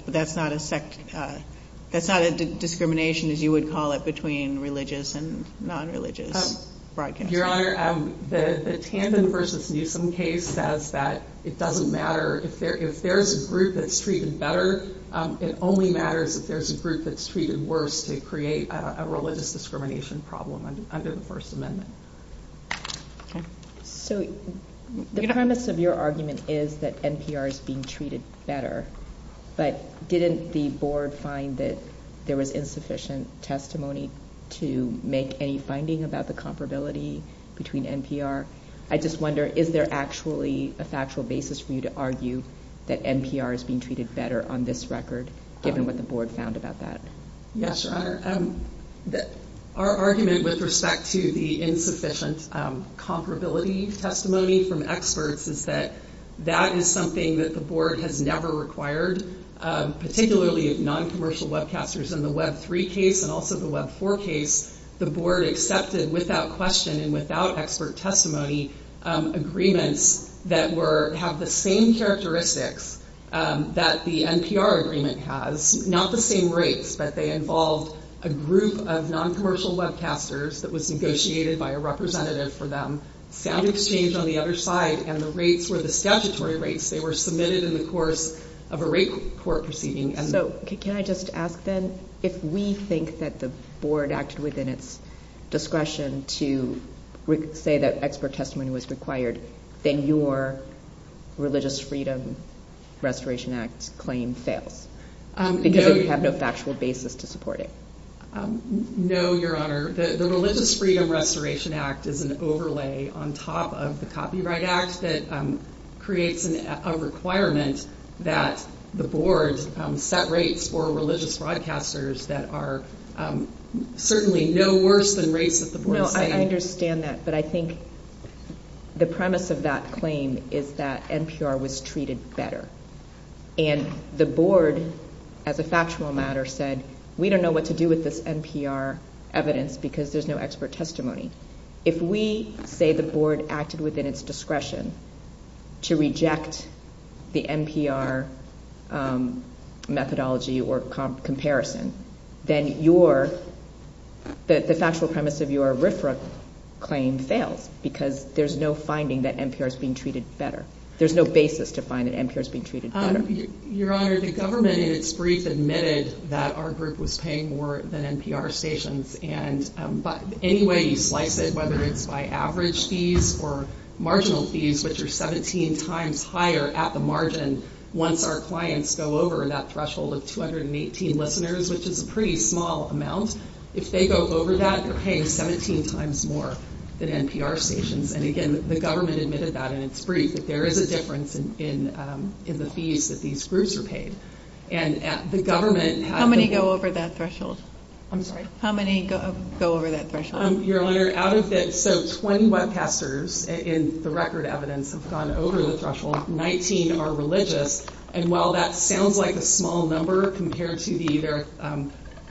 that's not a discrimination, as you would call it, between religious and nonreligious broadcasters. Your Honor, the Tandon v. Newsom case says that it doesn't matter. If there's a group that's treated better, it only matters if there's a group that's treated worse to create a religious discrimination problem under the First Amendment. So the premise of your argument is that NPR is being treated better. But didn't the board find that there was insufficient testimony to make a finding about the comparability between NPR? I just wonder, is there actually a factual basis for you to argue that NPR is being treated better on this record, given what the board found about that? Yes, Your Honor. Our argument with respect to the insufficient comparability testimony from experts is that that is something that the board has never required, particularly noncommercial webcasters in the Web 3 case and also the Web 4 case. The board accepted without question and without expert testimony agreements that have the same characteristics that the NPR agreement has. Not the same rates, but they involve a group of noncommercial webcasters that was negotiated by a representative for them. That is the change on the other side, and the rates were the statutory rates. They were submitted in the course of a rate court proceeding. Can I just ask then, if we think that the board acted within its discretion to say that expert testimony was required, then your Religious Freedom Restoration Act claim fails? Because you have no factual basis to support it. No, Your Honor. The Religious Freedom Restoration Act is an overlay on top of the Copyright Act that creates a requirement that the board set rates for religious broadcasters that are certainly no worse than rates that the board claims. Well, I understand that, but I think the premise of that claim is that NPR was treated better. And the board, as a factual matter, said, we don't know what to do with this NPR evidence because there's no expert testimony. If we say the board acted within its discretion to reject the NPR methodology or comparison, then the factual premise of your RFRA claim fails. Because there's no finding that NPR is being treated better. There's no basis to find that NPR is being treated better. Your Honor, the government in its brief admitted that our group was paying more than NPR stations. But any way you slice it, whether it's by average fees or marginal fees, which are 17 times higher at the margin once our clients go over that threshold of 218 listeners, which is a pretty small amount, if they go over that, they're paying 17 times more than NPR stations. And again, the government admitted that in its brief. But there is a difference in the fees that these groups are paying. And the government... How many go over that threshold? I'm sorry? How many go over that threshold? Your Honor, out of it, so 20 webcasters in the record evidence have gone over the threshold. 19 are religious. And while that sounds like a small number compared to the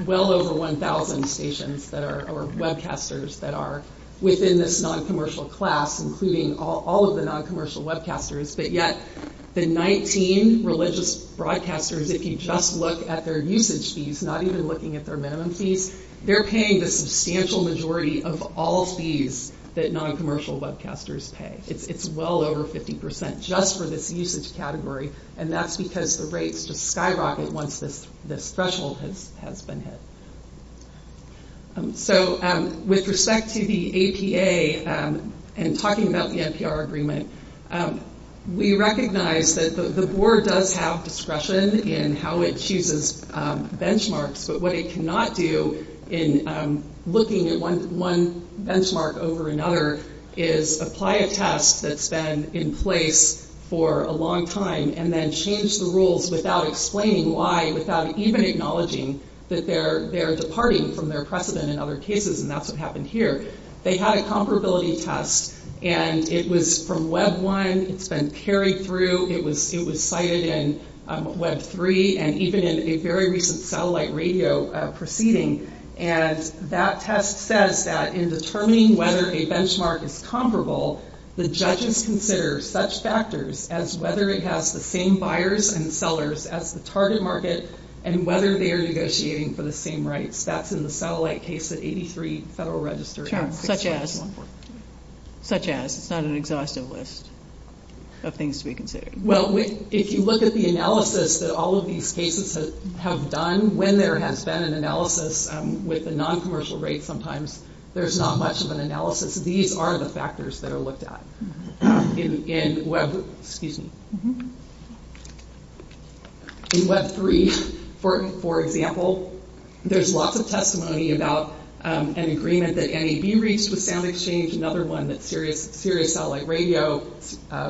well over 1,000 stations or webcasters that are within this noncommercial class, including all of the noncommercial webcasters, but yet the 19 religious broadcasters, if you just look at their usage fees, not even looking at their minimum fees, they're paying the substantial majority of all fees that noncommercial webcasters pay. It's well over 50% just for this usage category. And that's because the rates just skyrocket once this threshold has been hit. So with respect to the APA and talking about the NPR agreement, we recognize that the board does have discretion in how it chooses benchmarks. But what it cannot do in looking at one benchmark over another is apply a test that's been in place for a long time and then change the rules without explaining why, without even acknowledging that they're departing from their precedent in other cases, and that's what happened here. They had a comparability test. And it was from Web 1. It's been carried through. It was cited in Web 3 and even in a very recent satellite radio proceeding. And that test says that in determining whether a benchmark is comparable, the judges consider such factors as whether it has the same buyers and sellers as the target market and whether they are negotiating for the same rights. That's in the satellite case of 83 Federal Register. Such as. Such as. It's not an exhaustive list of things to be considered. Well, if you look at the analysis that all of these cases have done, when there has been an analysis with a noncommercial rate sometimes, there's not much of an analysis. These are the factors that are looked at in Web 3. For example, there's lots of testimony about an agreement that NAB reached with SoundExchange, another one that Sirius Satellite Radio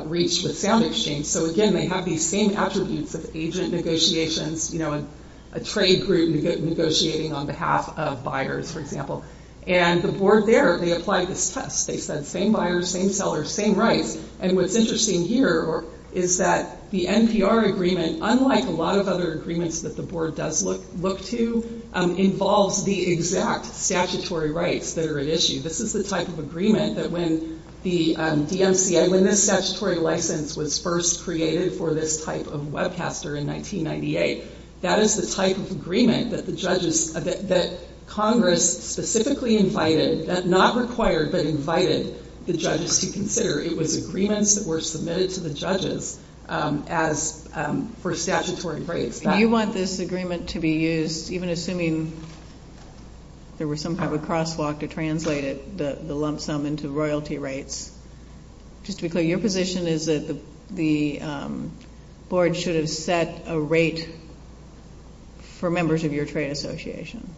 reached with SoundExchange. So, again, they have these same attributes of agent negotiations. You know, a trade group negotiating on behalf of buyers, for example. And the board there, they applied this test. They said same buyers, same sellers, same rights. And what's interesting here is that the NPR agreement, unlike a lot of other agreements that the board does look to, involves the exact statutory rights that are at issue. This is the type of agreement that when the DMCA, when this statutory license was first created for this type of webcaster in 1998, that is the type of agreement that the judges, that Congress specifically invited, not required, but invited the judges to consider. It was agreements that were submitted to the judges for statutory breaks. Do you want this agreement to be used, even assuming there was some type of crosswalk to translate it, the lump sum, into royalty rates? Just to be clear, your position is that the board should have set a rate for members of your trade association?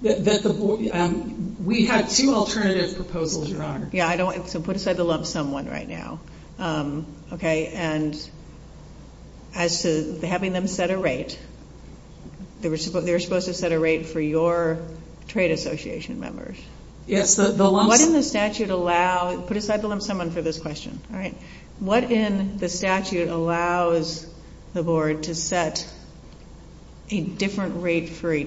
We have two alternative proposals, Your Honor. Yeah, put aside the lump sum one right now. And as to having them set a rate, they were supposed to set a rate for your trade association members. Yes. What in the statute allows, put aside the lump sum one for this question, all right? What in the statute or precedent allows the setting of a rate for a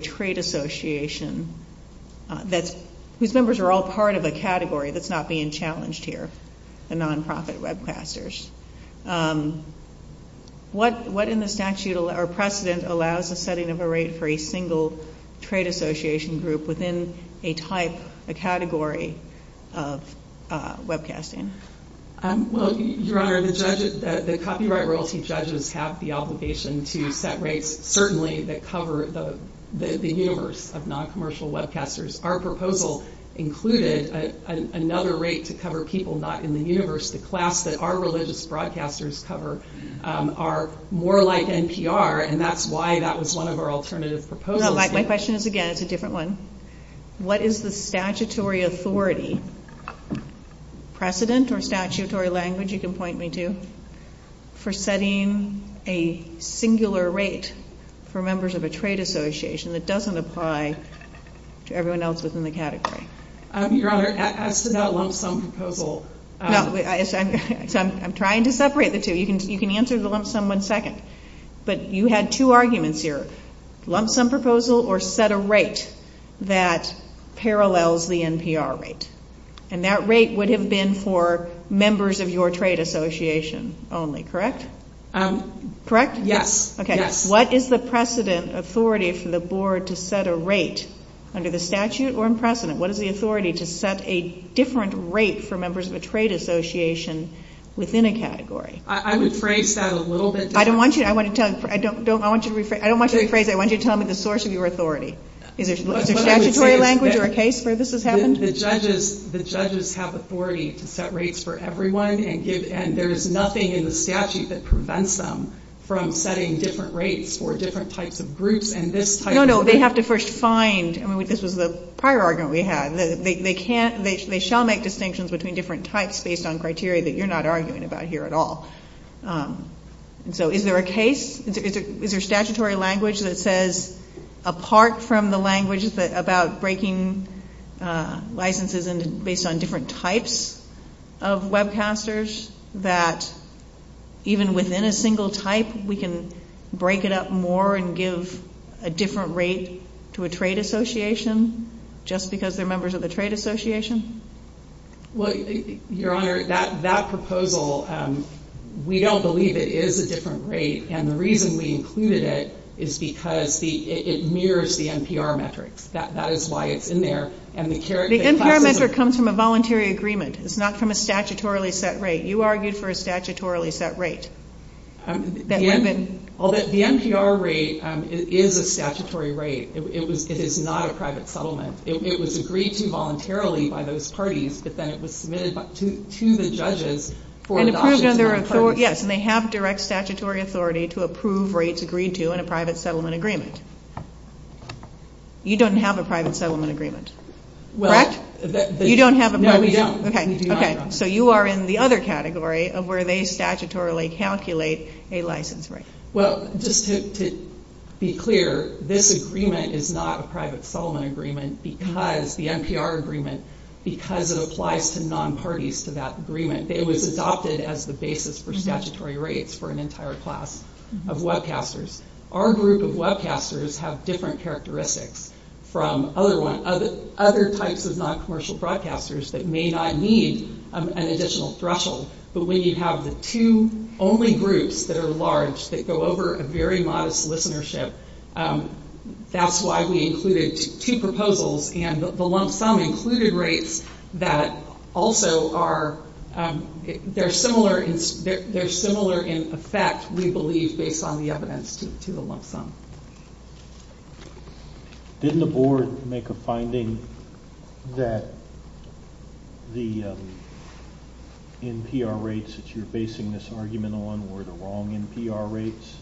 single trade association group within a type, a category of webcasting? Well, Your Honor, the copyright royalty judges have the obligation to set rates, certainly, that cover the universe of noncommercial webcasters. Our proposal included another rate to cover people not in the universe. The class that our religious broadcasters cover are more like NPR, and that's why that was one of our alternative proposals. My question is, again, it's a different one. What is the statutory authority, precedent or statutory language you can point me to, for setting a singular rate for members of a trade association that doesn't apply to everyone else within the category? Your Honor, I said that lump sum proposal. I'm trying to separate the two. You can answer the lump sum one second. But you had two arguments here. Lump sum proposal or set a rate that parallels the NPR rate. And that rate would have been for members of your trade association only, correct? Correct? Yes. Okay. What is the precedent authority for the board to set a rate under the statute or precedent? What is the authority to set a different rate for members of a trade association within a category? I would phrase that a little bit differently. I don't want you to phrase it. I want you to tell me the source of your authority. Is there statutory language or a case where this has happened? The judges have authority to set rates for everyone, and there is nothing in the statute that prevents them from setting different rates for different types of groups. No, no, they have to first find. I mean, this is the prior argument we had. They shall make distinctions between different types based on criteria that you're not arguing about here at all. So is there a case? Is there statutory language that says, apart from the language about breaking licenses based on different types of webcasters, that even within a single type we can break it up more and give a different rate to a trade association just because they're members of a trade association? Well, Your Honor, that proposal, we don't believe it is a different rate, and the reason we included it is because it mirrors the NPR metric. That is why it's in there. The NPR metric comes from a voluntary agreement. It's not from a statutorily set rate. You argued for a statutorily set rate. The NPR rate is a statutory rate. It is not a private settlement. It was agreed to voluntarily by those parties, but then it was submitted to the judges for adoption. Yes, and they have direct statutory authority to approve rates agreed to in a private settlement agreement. You don't have a private settlement agreement, correct? No, we don't. Okay, so you are in the other category of where they statutorily calculate a license rate. Well, just to be clear, this agreement is not a private settlement agreement because the NPR agreement, because it applies to non-parties to that agreement. It was adopted as the basis for statutory rates for an entire class of webcasters. Our group of webcasters have different characteristics from other types of non-commercial broadcasters that may not need an additional threshold. But when you have the two only groups that are large that go over a very modest listenership, that's why we included two proposals, and the lump sum included rates that also are similar in effect, we believe, based on the evidence to the lump sum. Didn't the board make a finding that the NPR rates that you're basing this argument on were the wrong NPR rates?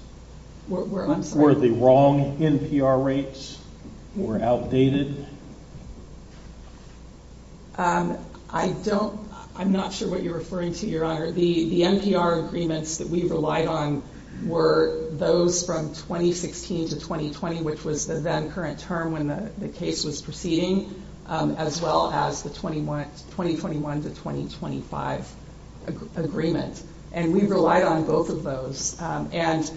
Were the wrong NPR rates or outdated? I'm not sure what you're referring to, Your Honor. The NPR agreements that we relied on were those from 2016 to 2020, which was the then current term when the case was proceeding, as well as the 2021 to 2025 agreement. And we relied on both of those. And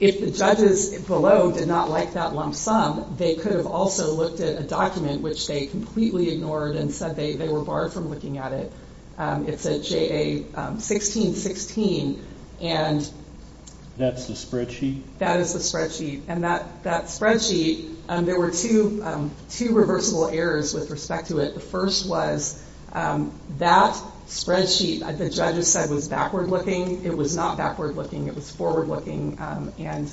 if the judges below did not like that lump sum, they could have also looked at a document which they completely ignored and said they were barred from looking at it. It said JA-16-16. That's the spreadsheet? That is the spreadsheet. And that spreadsheet, there were two reversible errors with respect to it. The first was that spreadsheet, as the judges said, was backward-looking. It was not backward-looking. It was forward-looking. And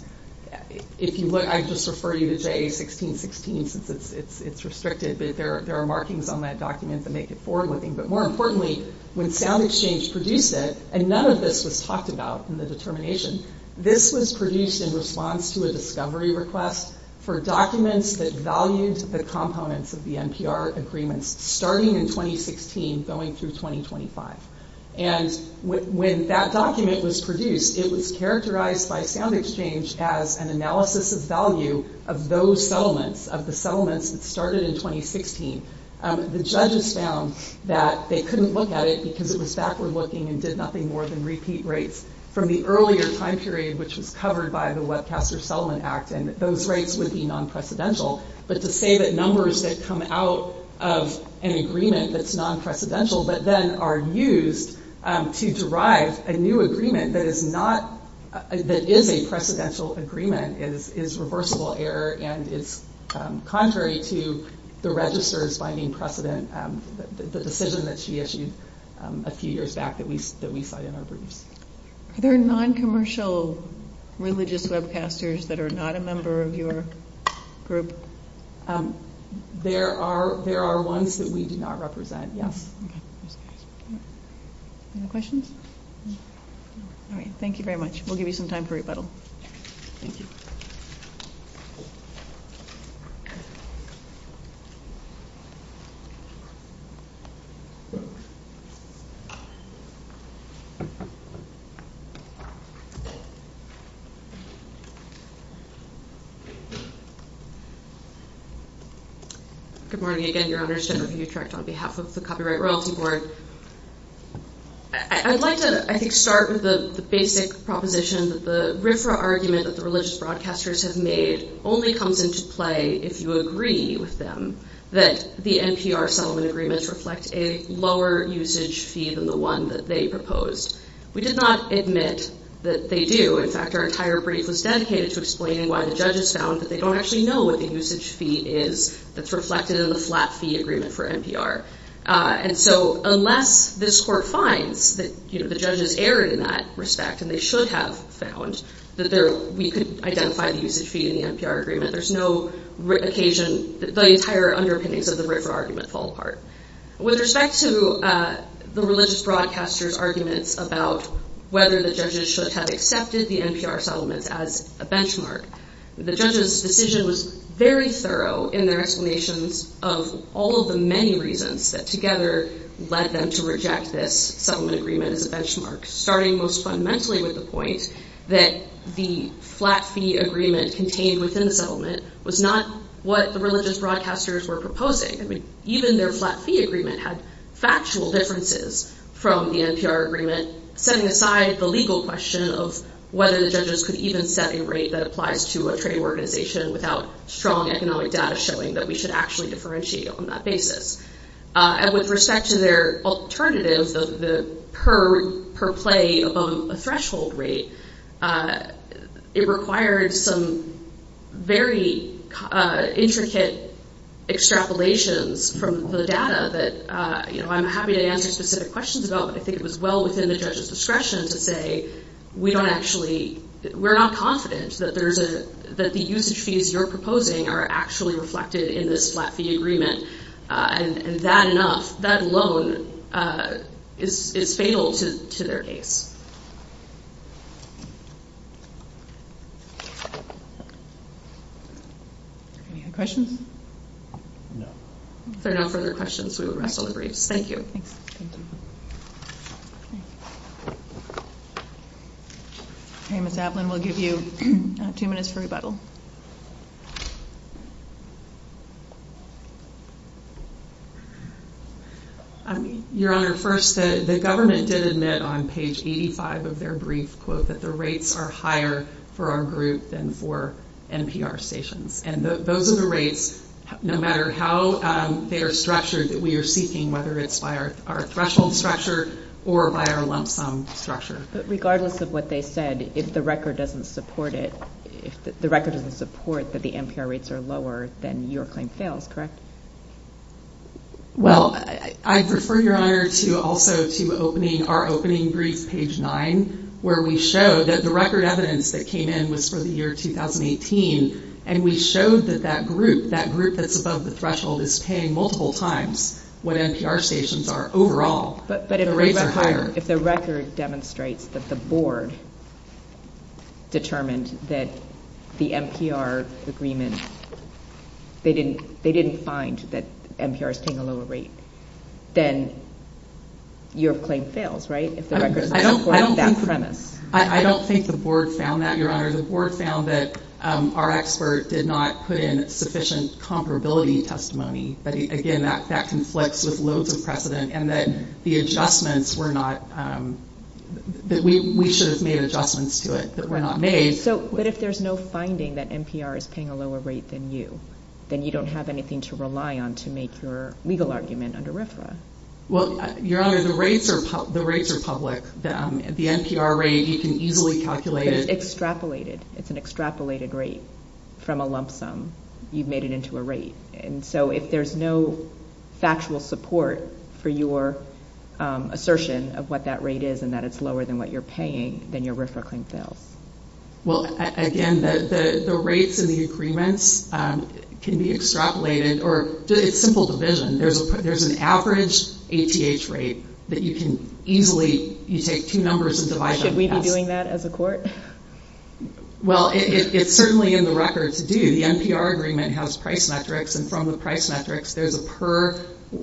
if you look, I just refer you to JA-16-16 since it's restricted. There are markings on that document that make it forward-looking. But more importantly, when SoundExchange produced it, and none of this was talked about in the determination, this was produced in response to a discovery request for documents that valued the components of the NPR agreement starting in 2016 going through 2025. And when that document was produced, it was characterized by SoundExchange as an analysis of value of those settlements, of the settlements that started in 2016. The judges found that they couldn't look at it because it was backward-looking and did nothing more than repeat rates from the earlier time period, which was covered by the Webcaster Settlement Act, and those rates would be non-precedential. But to say that numbers that come out of an agreement that's non-precedential but then are used to derive a new agreement that is a precedential agreement is reversible error and is contrary to the registers finding precedent, the decision that she issued a few years back that we cite in our briefs. There are non-commercial religious webcasters that are not a member of your group. There are ones that we do not represent. Any questions? All right. Thank you very much. We'll give you some time for rebuttal. Thank you. Good morning. Again, you're on your stand on behalf of the Copyright Royalty Board. I'd like to, I think, start with the basic proposition that the RFRA argument that the religious broadcasters have made only comes into play if you agree with them that the NPR settlement agreements reflect a lower usage fee than the one that they proposed. We did not admit that they do. In fact, our entire brief was dedicated to explaining why the judges found that they don't actually know what the usage fee is that's reflected in the flat fee agreement for NPR. And so unless this court finds that the judges erred in that respect and they should have found that we could identify the usage fee in the NPR agreement, there's no occasion that the entire underpinnings of the RFRA argument fall apart. With respect to the religious broadcasters' arguments about whether the judges should have accepted the NPR settlement as a benchmark, the judges' decision was very thorough in their explanations of all of the many reasons that together led them to reject this settlement agreement as a benchmark, starting most fundamentally with the point that the flat fee agreement contained within the settlement was not what the religious broadcasters were proposing. I mean, even their flat fee agreement had factual differences from the NPR agreement, setting aside the legal question of whether the judges could even set a rate that applies to a trading organization without strong economic data showing that we should actually differentiate on that basis. And with respect to their alternatives of the per play of a threshold rate, it required some very intricate extrapolations from the data that I'm happy to answer specific questions about, but I think it was well within the judge's discretion to say we're not confident that the usage fees you're proposing are actually reflected in this flat fee agreement. And that alone is fatal to their case. Any other questions? There are no further questions. We will rest all the briefs. Thank you. Okay, Ms. Adlin, we'll give you two minutes for rebuttal. Your Honor, first, the government did admit on page 85 of their brief that the rates are higher for our group than for NPR stations. And those are the rates, no matter how they are structured, that we are seeking, whether it's by our threshold structure or by our lump sum structure. But regardless of what they said, if the record doesn't support it, if the record doesn't support that the NPR rates are lower, then your claim fails, correct? Well, I refer, Your Honor, also to our opening brief, page 9, where we show that the record evidence that came in was for the year 2018, and we showed that that group, that group that's above the threshold, is paying multiple times what NPR stations are overall. But if the record demonstrates that the board determined that the NPR agreement, they didn't find that NPR is paying a lower rate, then your claim fails, right? I don't think the board found that, Your Honor. The board found that our expert did not put in sufficient comparability testimony. But again, that conflicts with loads of precedent, and that the adjustments were not, that we should have made adjustments to it that were not made. But if there's no finding that NPR is paying a lower rate than you, then you don't have anything to rely on to make your legal argument under RFRA. Well, Your Honor, the rates are public. The NPR rate, you can easily calculate it. It's extrapolated. It's an extrapolated rate from a lump sum. You've made it into a rate. And so if there's no factual support for your assertion of what that rate is and that it's lower than what you're paying, then your RFRA claim fails. Well, again, the rates in the agreements can be extrapolated, or it's simple division. There's an average APH rate that you can easily, you take two numbers and divide them. Should we be doing that as a court? Well, it's certainly in the records to do. The NPR agreement has price metrics, and from the price metrics, there's a per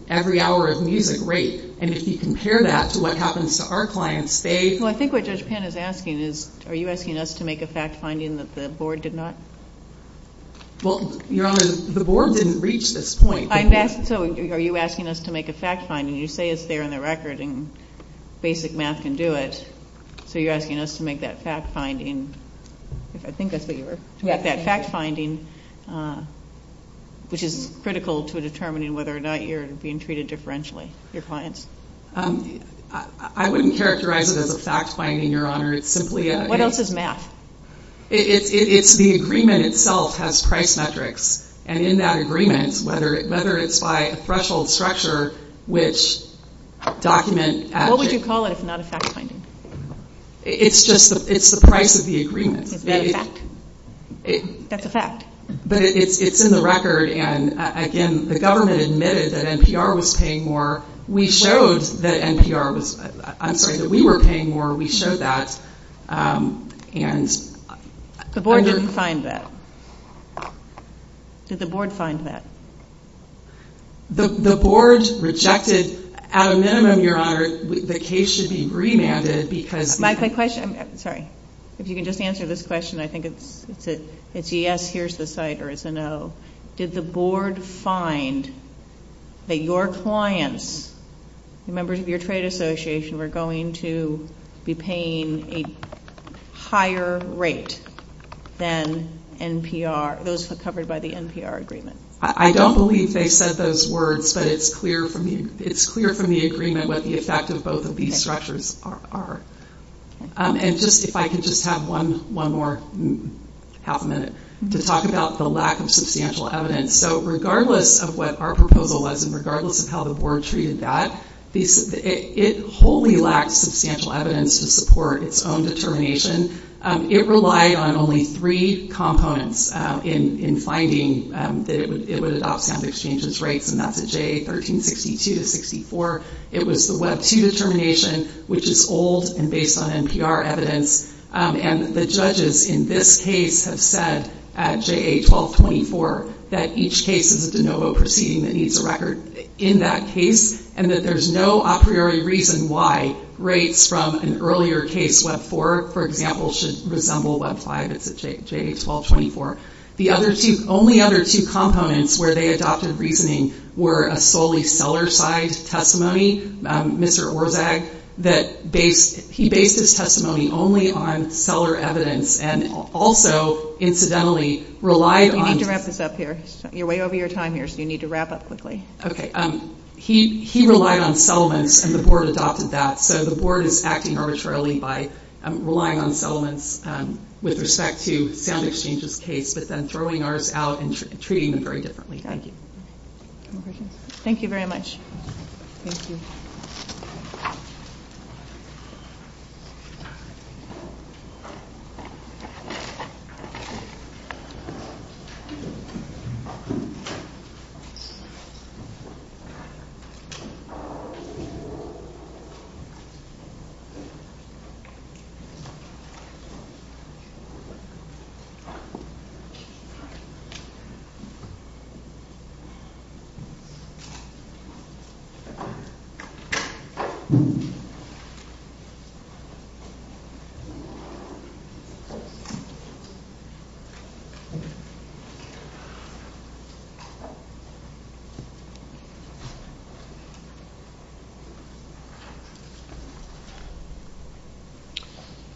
every hour of music rate. And if you compare that to what happens to our clients, they... Well, I think what Judge Penn is asking is, are you asking us to make a fact finding that the board did not? Well, Your Honor, the board didn't reach this point. So are you asking us to make a fact finding? You say it's there in the record, and basic math can do it. So you're asking us to make that fact finding, which is critical to determining whether or not you're being treated differentially, your clients? I wouldn't characterize it as a fact finding, Your Honor. It's simply a... What else is math? It's the agreement itself has price metrics, and in that agreement, whether it's by a threshold structure, which documents... What would you call it if not a fact finding? It's just the price of the agreement. That's a fact. That's a fact. But it's in the record, and again, the government admitted that NPR was paying more. We showed that NPR was... I'm sorry, that we were paying more. We showed that, and... The board didn't find that. Did the board find that? The board rejected... At a minimum, Your Honor, the case should be remanded because... My question... Sorry. If you can just answer this question, I think it's a yes, here's the site, or it's a no. Did the board find that your clients, the members of your trade association, were going to be paying a higher rate than NPR, those covered by the NPR agreement? I don't believe they said those words, but it's clear from the agreement what the effect of both of these structures are. And if I can just have one more half a minute to talk about the lack of substantial evidence. So regardless of what our proposal was, and regardless of how the board treated that, it wholly lacked substantial evidence to support its own determination. It relied on only three components in finding that it was outstanding exchanges rates, and that's a J1362-64. It was the Web 2 determination, which is old and based on NPR evidence. And the judges in this case have said at JA 1224 that each case is a de novo proceeding that needs a record in that case, and that there's no a priori reason why rates from an earlier case, Web 4, for example, should resemble Web 5 at JA 1224. The only other two components where they adopted reasoning were a solely seller-side testimony, Mr. Orzag, that he based his testimony only on seller evidence and also, incidentally, relied on... You need to wrap this up here. You're way over your time here, so you need to wrap up quickly. Okay. He relied on settlements, and the board adopted that. So the board is acting arbitrarily by relying on settlements with respect to sound exchanges case, but then throwing ours out and treating them very differently. Thank you. Thank you very much. Thank you. Thank you.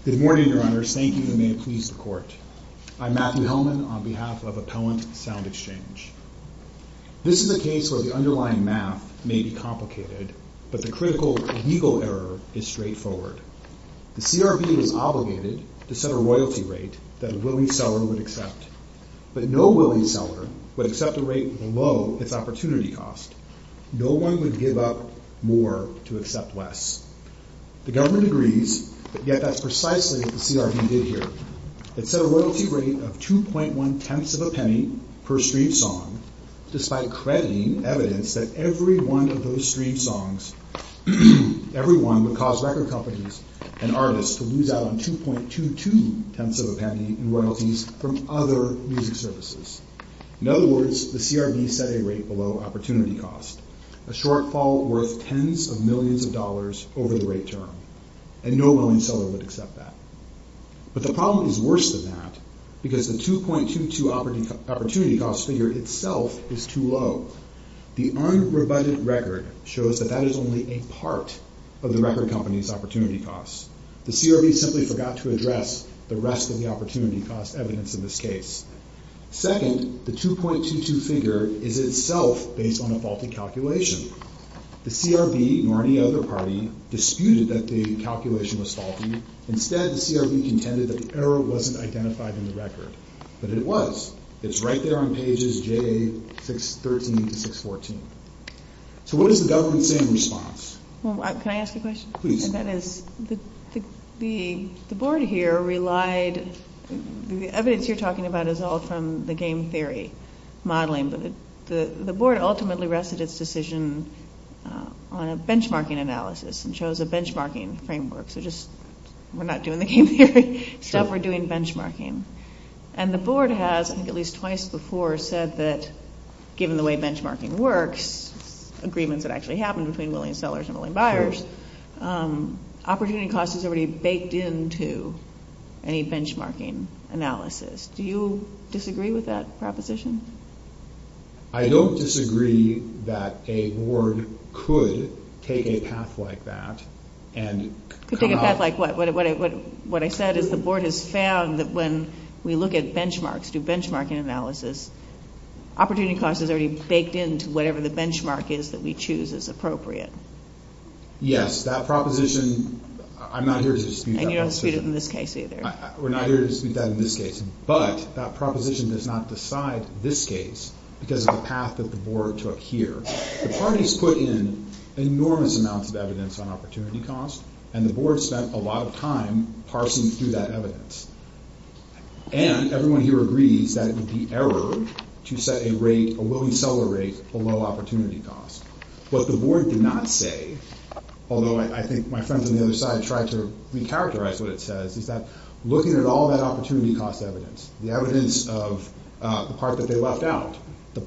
Good morning, Your Honors. Thank you, and may it please the Court. I'm Matthew Hellman on behalf of Appellant Sound Exchange. This is a case where the underlying math may be complicated, but the critical legal error is straightforward. The CRB is obligated to set a royalty rate that a willing seller would accept, but no willing seller would accept a rate below its opportunity cost. No one would give up more to accept less. The government agrees, yet that's precisely what the CRB did here. It set a royalty rate of 2.1 tenths of a penny per streamed song, despite crediting evidence that every one of those streamed songs, every one would cause record companies and artists to lose out on 2.22 tenths of a penny in royalties from other music services. In other words, the CRB set a rate below opportunity cost, a shortfall worth tens of millions of dollars over the rate term, and no willing seller would accept that. But the problem is worse than that, because the 2.22 opportunity cost figure itself is too low. The unprovided record shows that that is only a part of the record company's opportunity cost. The CRB simply forgot to address the rest of the opportunity cost evidence in this case. Second, the 2.22 figure is itself based on a faulty calculation. The CRB, nor any other party, disputed that the calculation was faulty. Instead, the CRB contended that the error wasn't identified in the record. But it was. It's right there on pages J, 613 to 614. So what does the government say in response? Can I ask a question? Please. The board here relied... The evidence you're talking about is all from the game theory modeling, but the board ultimately rested its decision on a benchmarking analysis, and chose a benchmarking framework. So just, we're not doing the game theory stuff, we're doing benchmarking. And the board has, I think at least twice before, said that, given the way benchmarking works, agreements that actually happen between million sellers and million buyers, opportunity cost is already baked into any benchmarking analysis. Do you disagree with that proposition? I don't disagree that a board could take a path like that and... Could take a path like what? What I said is the board has found that when we look at benchmarks, do benchmarking analysis, opportunity cost is already baked into whatever the benchmark is that we choose as appropriate. Yes, that proposition, I'm not here to dispute that. And you don't dispute it in this case either. We're not here to dispute that in this case. But that proposition does not decide this case because of the path that the board took here. The parties put in enormous amounts of evidence on opportunity cost, and everyone here agrees that it would be error to set a rate, a willing seller rate, below opportunity cost. But the board did not say, although I think my friends on the other side tried to recharacterize what it says, is that looking at all that opportunity cost evidence, the evidence of the part that they left out,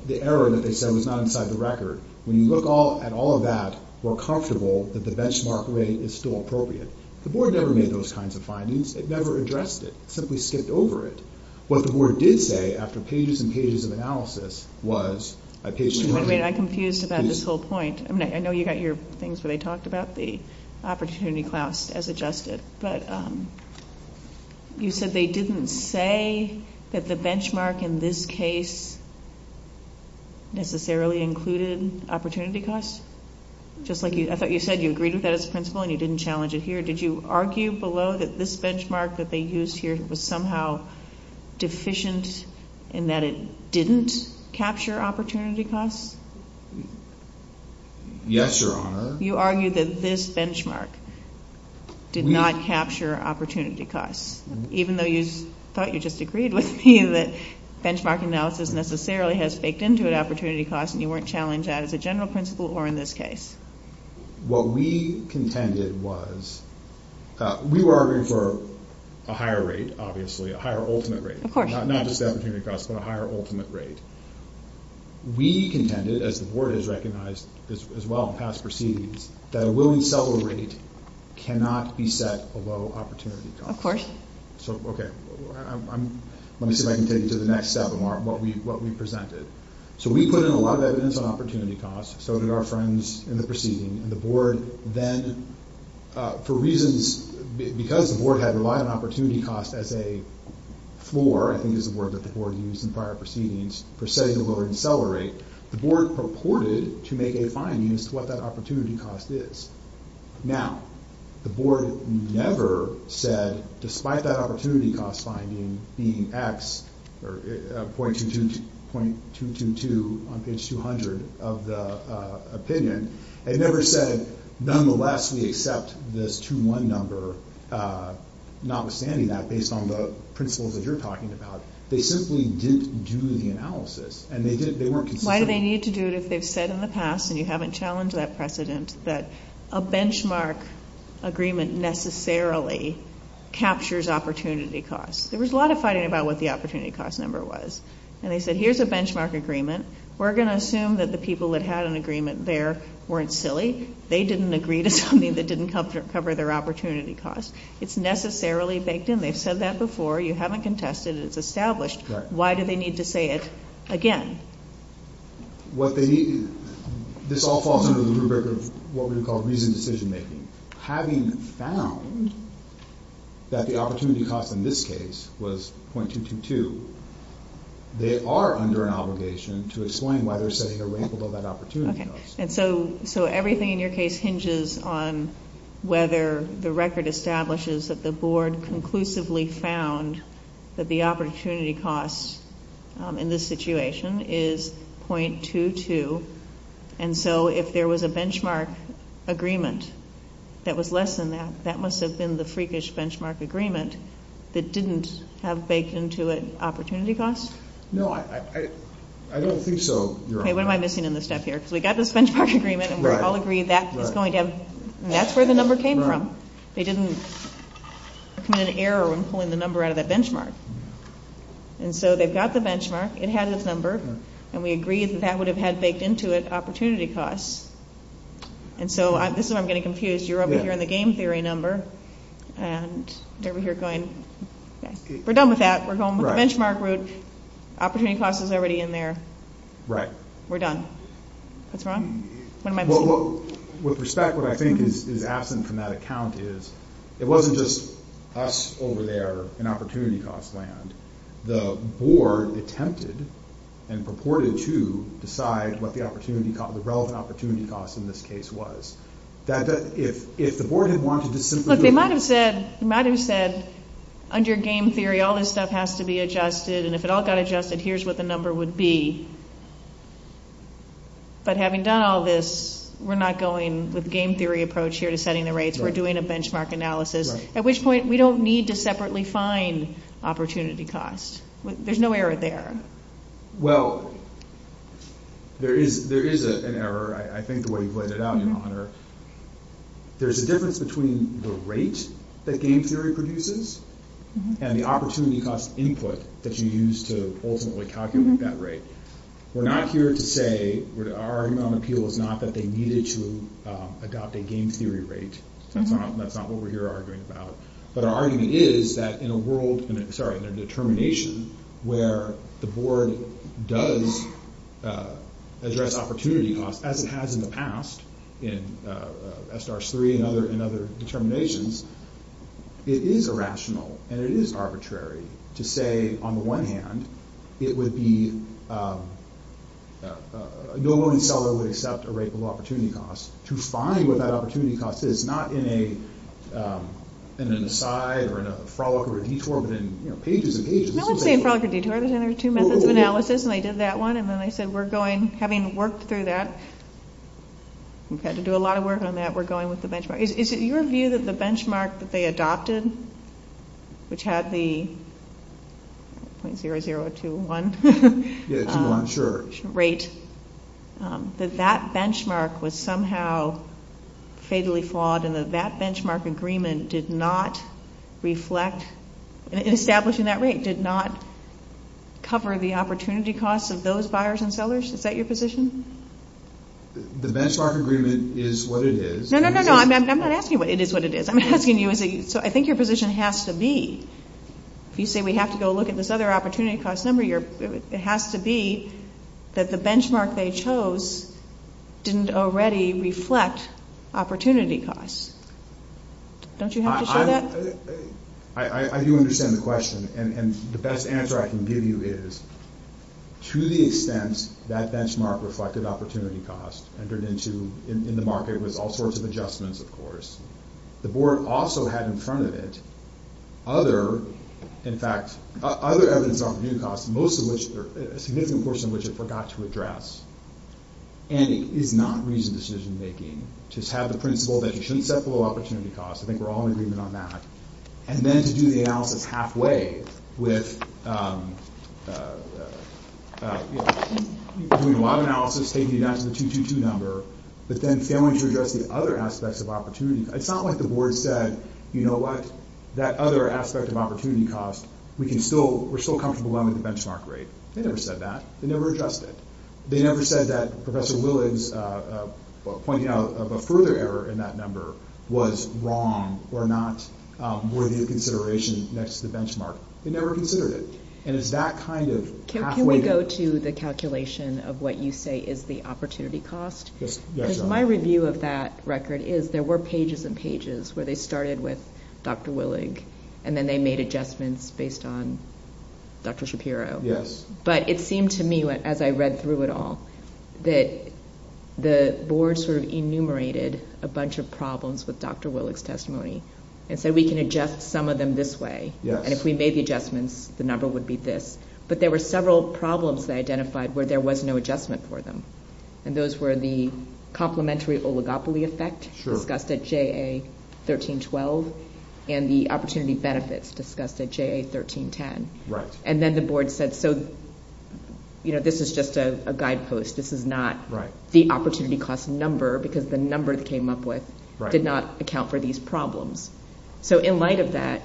the error that they said was not inside the record, when you look at all of that, we're comfortable that the benchmark rate is still appropriate. The board never made those kinds of findings. It never addressed it. It simply skipped over it. What the board did say after pages and pages of analysis was... I'm confused about this whole point. I know you've got your things that I talked about, the opportunity cost as adjusted. But you said they didn't say that the benchmark in this case necessarily included opportunity cost? Just like I thought you said you agreed with that as a principle and you didn't challenge it here. Did you argue below that this benchmark that they used here was somehow deficient in that it didn't capture opportunity cost? Yes, Your Honor. You argued that this benchmark did not capture opportunity cost, even though you thought you just agreed with me that benchmark analysis necessarily has taken to an opportunity cost and you weren't challenged as a general principle or in this case? What we contended was... We were arguing for a higher rate, obviously, a higher ultimate rate. Of course. Not just the opportunity cost, but a higher ultimate rate. We contended, as the board has recognized as well in past proceedings, that a willing seller rate cannot be set below opportunity cost. Of course. Okay. Let me see if I can take you to the next step of what we presented. So we put in a lot of evidence on opportunity cost. So did our friends in the proceeding. And the board then, for reasons... Because the board had a lot of opportunity cost as a floor, I think is the word that the board used in prior proceedings, for setting a willing seller rate, the board purported to make a finding as to what that opportunity cost is. Now, the board never said, despite that opportunity cost finding being X, or .222 on page 200 of the opinion, they never said, nonetheless, we accept this 2-1 number, notwithstanding that, based on the principles that you're talking about. They simply didn't do the analysis. And they weren't consistent. Why do they need to do it if they've said in the past, and you haven't challenged that precedent, that a benchmark agreement necessarily captures opportunity cost? There was a lot of fighting about what the opportunity cost number was. And they said, here's a benchmark agreement. We're going to assume that the people that had an agreement there weren't silly. They didn't agree to something that didn't cover their opportunity cost. It's necessarily baked in. They've said that before. You haven't contested it. It's established. Why do they need to say it again? This all falls under the rubric of what we would call reasoned decision-making. Having found that the opportunity cost in this case was .222, they are under an obligation to explain why they're setting a rank above that opportunity cost. So everything in your case hinges on whether the record establishes that the board conclusively found that the opportunity cost in this situation is .22. And so if there was a benchmark agreement that was less than that, that must have been the freakish benchmark agreement that didn't have baked into it opportunity cost? No, I don't think so. Okay, what am I missing in this stuff here? Because we've got this benchmark agreement, and we all agree that's where the number came from. It didn't come in error when pulling the number out of that benchmark. And so they've got the benchmark. It had this number, and we agreed that that would have had baked into it opportunity cost. And so this is what I'm getting confused. You're up here on the game theory number, and they're over here going, we're done with that. We're going with the benchmark route. Opportunity cost is already in there. Right. We're done. What's wrong? What am I missing? With respect, what I think is absent from that account is it wasn't just us over there in opportunity cost land. The board attempted and purported to decide what the opportunity cost, the relevant opportunity cost in this case was. If the board had wanted to simply do that. But they might have said, under game theory, all this stuff has to be adjusted, and if it all got adjusted, here's what the number would be. But having done all this, we're not going with game theory approach here to setting the rates. We're doing a benchmark analysis. At which point, we don't need to separately find opportunity cost. There's no error there. Well, there is an error. I think the way you pointed it out, Connor. There's a difference between the rate that game theory produces and the opportunity cost input that you use to ultimately calculate that rate. We're not here to say, our argument on the appeal is not that they needed to adopt a game theory rate. That's not what we're here arguing about. But our argument is that in a world, sorry, in a determination where the board does address opportunity cost, as it has in the past in S.R.S. 3 and other determinations, it is irrational and it is arbitrary to say, on the one hand, it would be, no loan seller would accept a rate of opportunity cost to find what that opportunity cost is, not in a messiah or in a frolic or a detour, but in pages and pages. No, it's the same procedure. There was another two minutes of analysis and I did that one. And then I said, we're going, having worked through that, we've had to do a lot of work on that, we're going with the benchmark. Is it your view that the benchmark that they adopted, which had the 0.0021 rate, that that benchmark was somehow fatally flawed and that that benchmark agreement did not reflect, in establishing that rate, did not cover the opportunity cost of those buyers and sellers? Is that your position? The benchmark agreement is what it is. No, no, no, no. I'm not asking you what it is what it is. I'm asking you, so I think your position has to be, if you say we have to go look at this other opportunity cost number, it has to be that the benchmark they chose didn't already reflect opportunity cost. Don't you have to show that? I do understand the question. And the best answer I can give you is, to the extent that benchmark reflected opportunity cost and turned into, in the market, there's all sorts of adjustments, of course. The board also had in front of it other, in fact, other evidence of opportunity cost, most of which, a significant portion of which it forgot to address. And it is not reasoned decision making. Just have the principle that you shouldn't step below opportunity cost. I think we're all in agreement on that. And then to do the analysis halfway with doing a lot of analysis, taking advantage of the 222 number, but then failing to address the other aspects of opportunity. It's not like the board said, you know what, that other aspect of opportunity cost, we're still comfortable with the benchmark rate. They never said that. They never addressed it. They never said that Professor Willig's pointing out of a further error in that number was wrong or not worthy of consideration next to the benchmark. They never considered it. And it's that kind of pathway. Can we go to the calculation of what you say is the opportunity cost? Yes. Because my review of that record is there were pages and pages where they started with Dr. Willig and then they made adjustments based on Dr. Shapiro. Yes. But it seemed to me as I read through it all that the board sort of enumerated a bunch of problems with Dr. Willig's testimony and said we can adjust some of them this way. Yes. And if we made the adjustments, the number would be this. But there were several problems they identified where there was no adjustment for them. And those were the complementary oligopoly effect discussed at JA 1312 and the opportunity benefits discussed at JA 1310. Right. And then the board said so, you know, this is just a guidepost. This is not the opportunity cost number because the number they came up with did not account for these problems. So in light of that,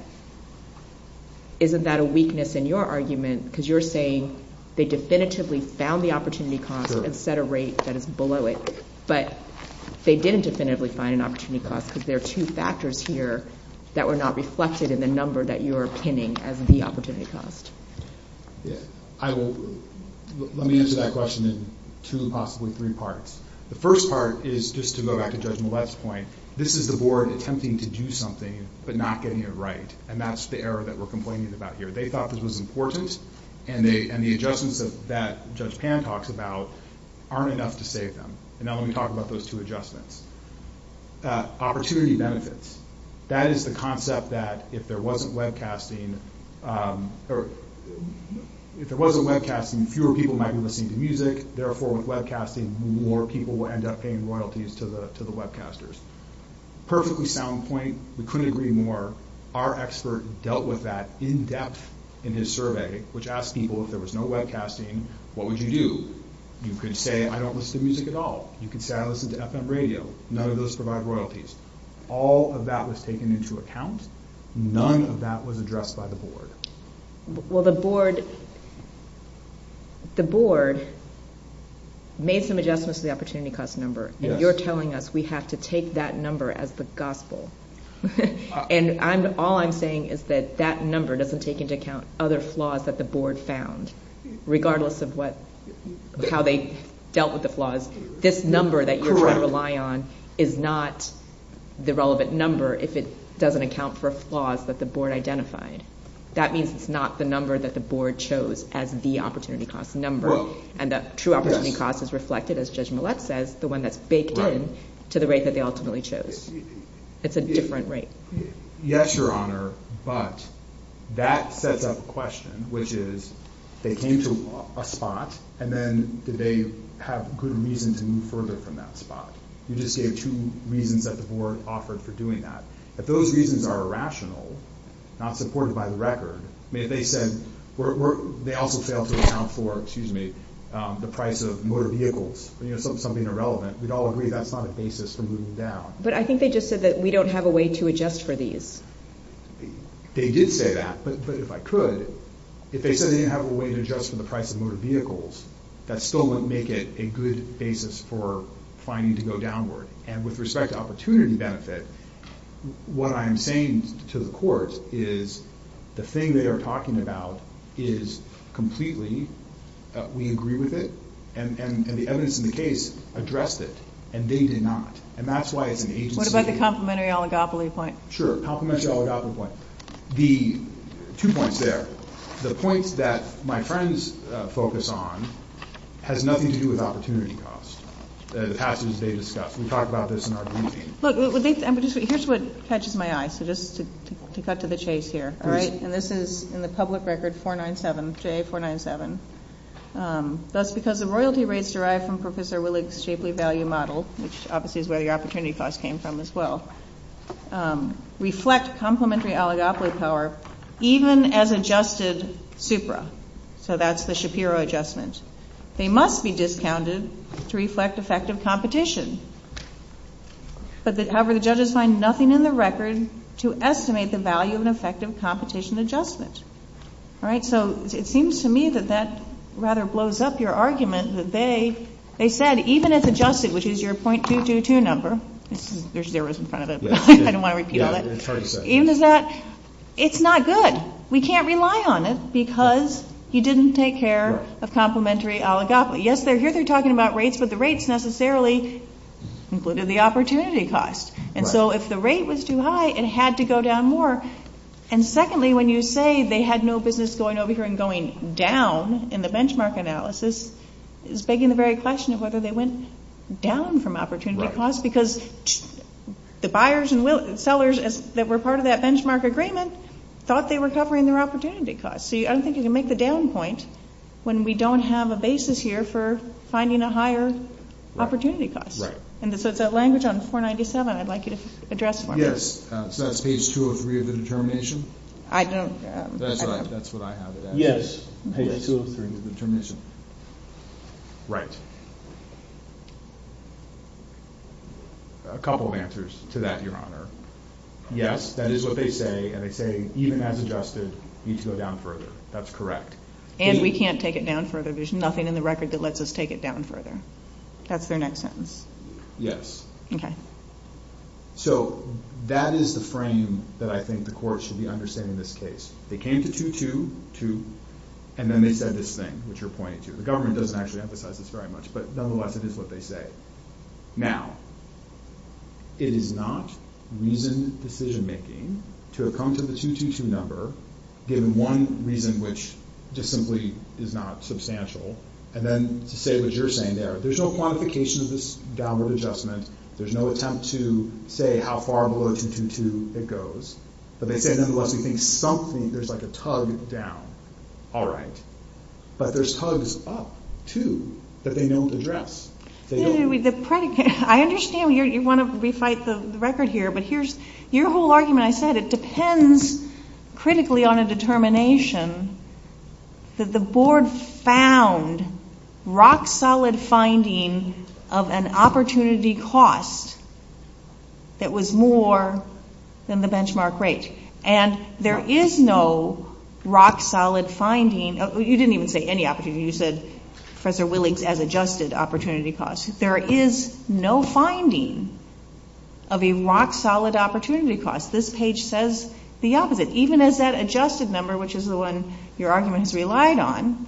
isn't that a weakness in your argument? Because you're saying they definitively found the opportunity cost and set a rate below it. But they didn't definitively find an opportunity cost because there are two factors here that were not reflected in the number that you are pinning as the opportunity cost. Yes. Let me answer that question in two, possibly three parts. The first part is just to go back to Judge Millett's point. This is the board attempting to do something but not getting it right. And that's the error that we're complaining about here. They thought this was important and the adjustments that Judge Pan talks about aren't enough to save them. And now let me talk about those two adjustments. Opportunity benefits. That is the concept that if there wasn't webcasting, fewer people might be listening to music. Therefore, with webcasting, more people will end up paying royalties to the webcasters. Perfectly sound point. We couldn't agree more. Our expert dealt with that in depth in his survey, which asked people if there was no webcasting, what would you do? You could say I don't listen to music at all. You could say I listen to FM radio. None of those provide royalties. All of that was taken into account. None of that was addressed by the board. Well, the board made some adjustments to the opportunity cost number. And you're telling us we have to take that number as the gospel. And all I'm saying is that that number doesn't take into account other flaws that the board found, regardless of how they dealt with the flaws. This number that you're trying to rely on is not the relevant number if it doesn't account for flaws that the board identified. That means it's not the number that the board chose as the opportunity cost number. And the true opportunity cost is reflected, as Judge Millett says, the one that's baked in to the rate that they ultimately chose. It's a different rate. Yes, Your Honor, but that sets up a question, which is they came to a spot, and then did they have good reason to move further from that spot? You just gave two reasons that the board offered for doing that. If those reasons are irrational, not supported by the record, if they said they also failed to account for, excuse me, the price of motor vehicles, something irrelevant, we'd all agree that's not a basis for moving down. But I think they just said that we don't have a way to adjust for these. They did say that, but if I could, if they said they didn't have a way to adjust for the price of motor vehicles, that still wouldn't make it a good basis for finding to go downward. And with respect to opportunity benefit, what I'm saying to the court is the thing they are talking about is completely, we agree with it, and the evidence in the case addressed it, and they did not. What about the complementary oligopoly point? Sure, complementary oligopoly point. Two points there. The point that my friends focus on has nothing to do with opportunity cost, the passes they discussed. We talked about this in our briefing. Look, here's what catches my eye, so just to cut to the chase here, all right, and this is in the public record 497, CA 497. That's because the royalty rates derived from Professor Willig's Shapley value model, which obviously is where the opportunity cost came from as well, reflect complementary oligopoly power even as adjusted supra. So that's the Shapiro adjustment. They must be discounted to reflect effective competition. However, the judges find nothing in the record to estimate the value of an effective competition adjustment. All right, so it seems to me that that rather blows up your argument that they said even if adjusted, which is your .222 number, there's zeros in front of it, I don't want to repeat it, even if that, it's not good. We can't rely on it because he didn't take care of complementary oligopoly. Yes, here they're talking about rates, but the rates necessarily included the opportunity cost. And so if the rate was too high, it had to go down more. And secondly, when you say they had no business going over here and going down in the benchmark analysis, it was begging the very question of whether they went down from opportunity cost because the buyers and sellers that were part of that benchmark agreement thought they were covering their opportunity cost. So I don't think you can make the down point when we don't have a basis here for finding a higher opportunity cost. And so that language on 497 I'd like you to address for me. Yes, so that's page 203 of the determination? I don't... That's what I have it as. Yes, page 203 of the determination. Right. A couple of answers to that, Your Honor. Yes, that is what they say, and they say even as adjusted, it needs to go down further. That's correct. And we can't take it down further. There's nothing in the record that lets us take it down further. That's their next sentence. Yes. Okay. So that is the frame that I think the courts should be understanding this case. They came to 222, and then they said this thing, which you're pointing to. The government doesn't actually emphasize this very much, but nonetheless, it is what they say. Now, it is not reasoned decision-making to have come to the 222 number given one reason which just simply is not substantial, and then to say what you're saying there. There's no quantification of this downward adjustment. There's no attempt to say how far below 222 it goes. But they say, nonetheless, they think something, there's like a tug down. All right. But there's tugs up, too, that they don't address. Excuse me. I understand you want to refight the record here, but here's your whole argument. Again, I said it depends critically on a determination that the board found rock-solid finding of an opportunity cost that was more than the benchmark rate. And there is no rock-solid finding. You didn't even say any opportunity. You said Professor Willink's as-adjusted opportunity cost. There is no finding of a rock-solid opportunity cost. This page says the opposite. Even as that adjusted number, which is the one your argument has relied on,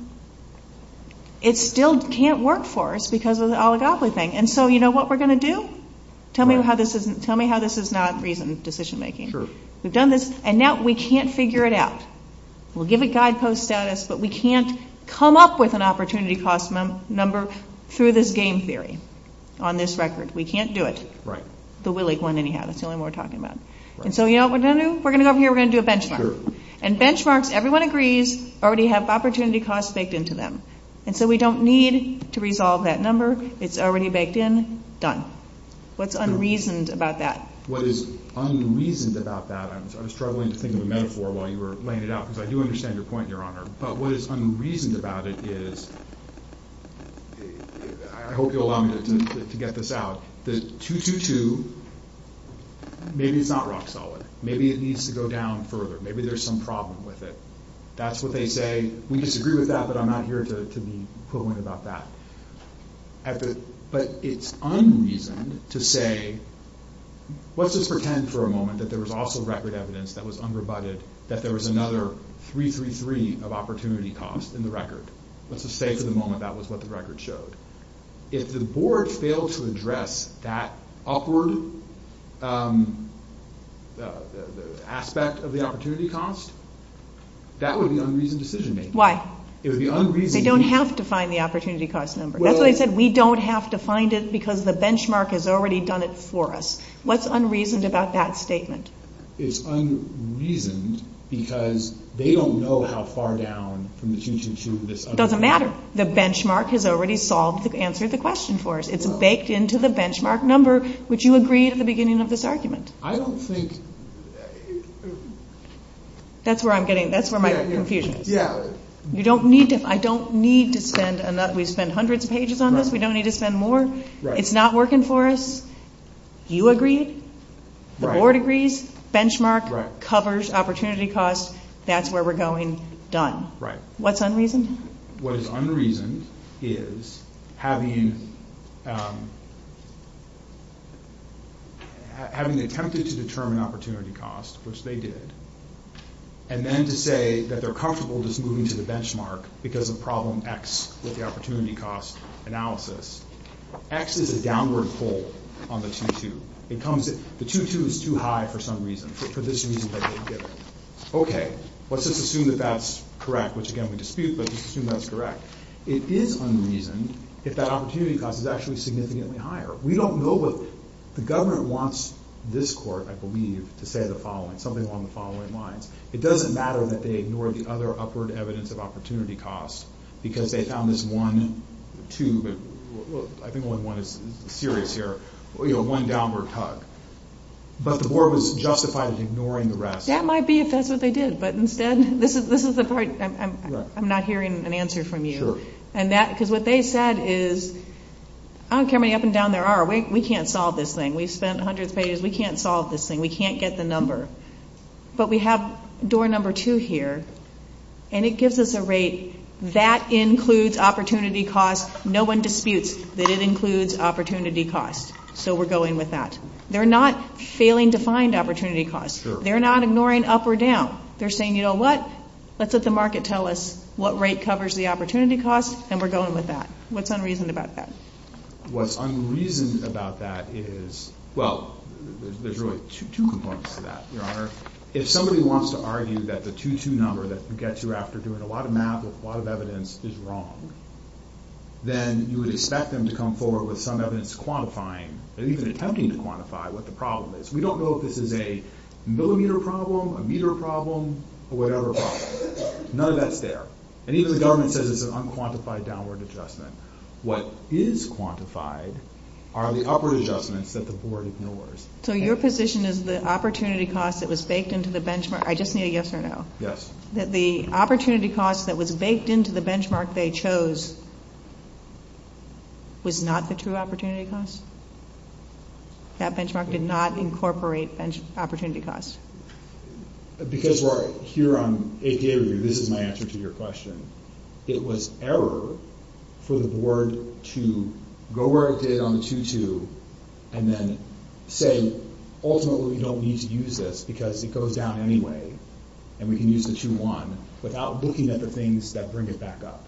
it still can't work for us because of the oligopoly thing. And so you know what we're going to do? Tell me how this is not reasoned decision-making. True. We've done this, and now we can't figure it out. We'll give it guidepost status, but we can't come up with an opportunity cost number through this game theory on this record. We can't do it. Right. The Willink one, anyhow. It's the only one we're talking about. And so you know what we're going to do? We're going to go over here. We're going to do a benchmark. And benchmarks, everyone agrees, already have opportunity costs baked into them. And so we don't need to resolve that number. It's already baked in. Done. What's unreasoned about that? What is unreasoned about that? I was struggling to think of a metaphor while you were laying it out, because I do understand your point, Your Honor. But what is unreasoned about it is, I hope you'll allow me to get this out, this 2-2-2, maybe it's not rock-solid. Maybe it needs to go down further. Maybe there's some problem with it. That's what they say. We disagree with that, but I'm not here to be poignant about that. But it's unreasoned to say, let's just pretend for a moment that there was also record evidence that was under-budget, that there was another 3-3-3 of opportunity costs in the record. Let's just say for the moment that was what the record showed. If the board failed to address that upward aspect of the opportunity cost, that would be unreasoned decision-making. Why? They don't have to find the opportunity cost number. That's why I said we don't have to find it, because the benchmark has already done it for us. What's unreasoned about that statement? It's unreasoned because they don't know how far down from the 2-2-2. It doesn't matter. The benchmark has already solved the answer to the question for us. It's baked into the benchmark number, which you agree at the beginning of this argument. I don't think... That's where I'm getting, that's where my confusion is. I don't need to spend... We've spent hundreds of pages on this. We don't need to spend more. It's not working for us. You agree. The board agrees. Benchmark covers opportunity cost. That's where we're going. Done. What's unreasoned? What is unreasoned is having... Having attempted to determine opportunity cost, which they did, and then to say that they're comfortable just moving to the benchmark because of problem X with the opportunity cost analysis. X is a downward pull on the 2-2. It comes... The 2-2 is too high for some reason, for this reason that they did it. Okay. Let's just assume that that's correct, which again we dispute, but just assume that's correct. It is unreasoned if that opportunity cost is actually significantly higher. We don't know what... The government wants this court, I believe, to say the following. Something along the following lines. It doesn't matter that they ignored the other upward evidence of opportunity cost because they found this 1-2. I think only 1 is serious here. One downward cut. But the board was justified as ignoring the rest. That might be if that's what they did. But instead, this is the part I'm not hearing an answer from you. Sure. Because what they said is, I don't care how many up and down there are. We can't solve this thing. We spent 100 pages. We can't solve this thing. We can't get the number. But we have door number 2 here, and it gives us a rate. That includes opportunity cost. No one disputes that it includes opportunity cost. So we're going with that. They're not failing to find opportunity cost. They're not ignoring up or down. They're saying, you know what, let's let the market tell us what rate covers the opportunity cost, and we're going with that. What's unreasoned about that? Well, there's really two components to that, Your Honor. If somebody wants to argue that the 2-2 number that gets you after doing a lot of math with a lot of evidence is wrong, then you would expect them to come forward with some evidence quantifying, or even attempting to quantify, what the problem is. We don't know if this is a millimeter problem, a meter problem, or whatever problem. None of that's there. And even the government says it's an unquantified downward adjustment. What is quantified are the upward adjustments that the board ignores. So your position is the opportunity cost that was baked into the benchmark. I just need a yes or no. Yes. That the opportunity cost that was baked into the benchmark they chose was not the true opportunity cost? That benchmark did not incorporate opportunity cost. Because here on 8K review, this is my answer to your question. It was error for the board to go where it is on the 2-2 and then say, ultimately, we don't need to use this because it goes down anyway, and we can use the 2-1 without looking at the things that bring it back up.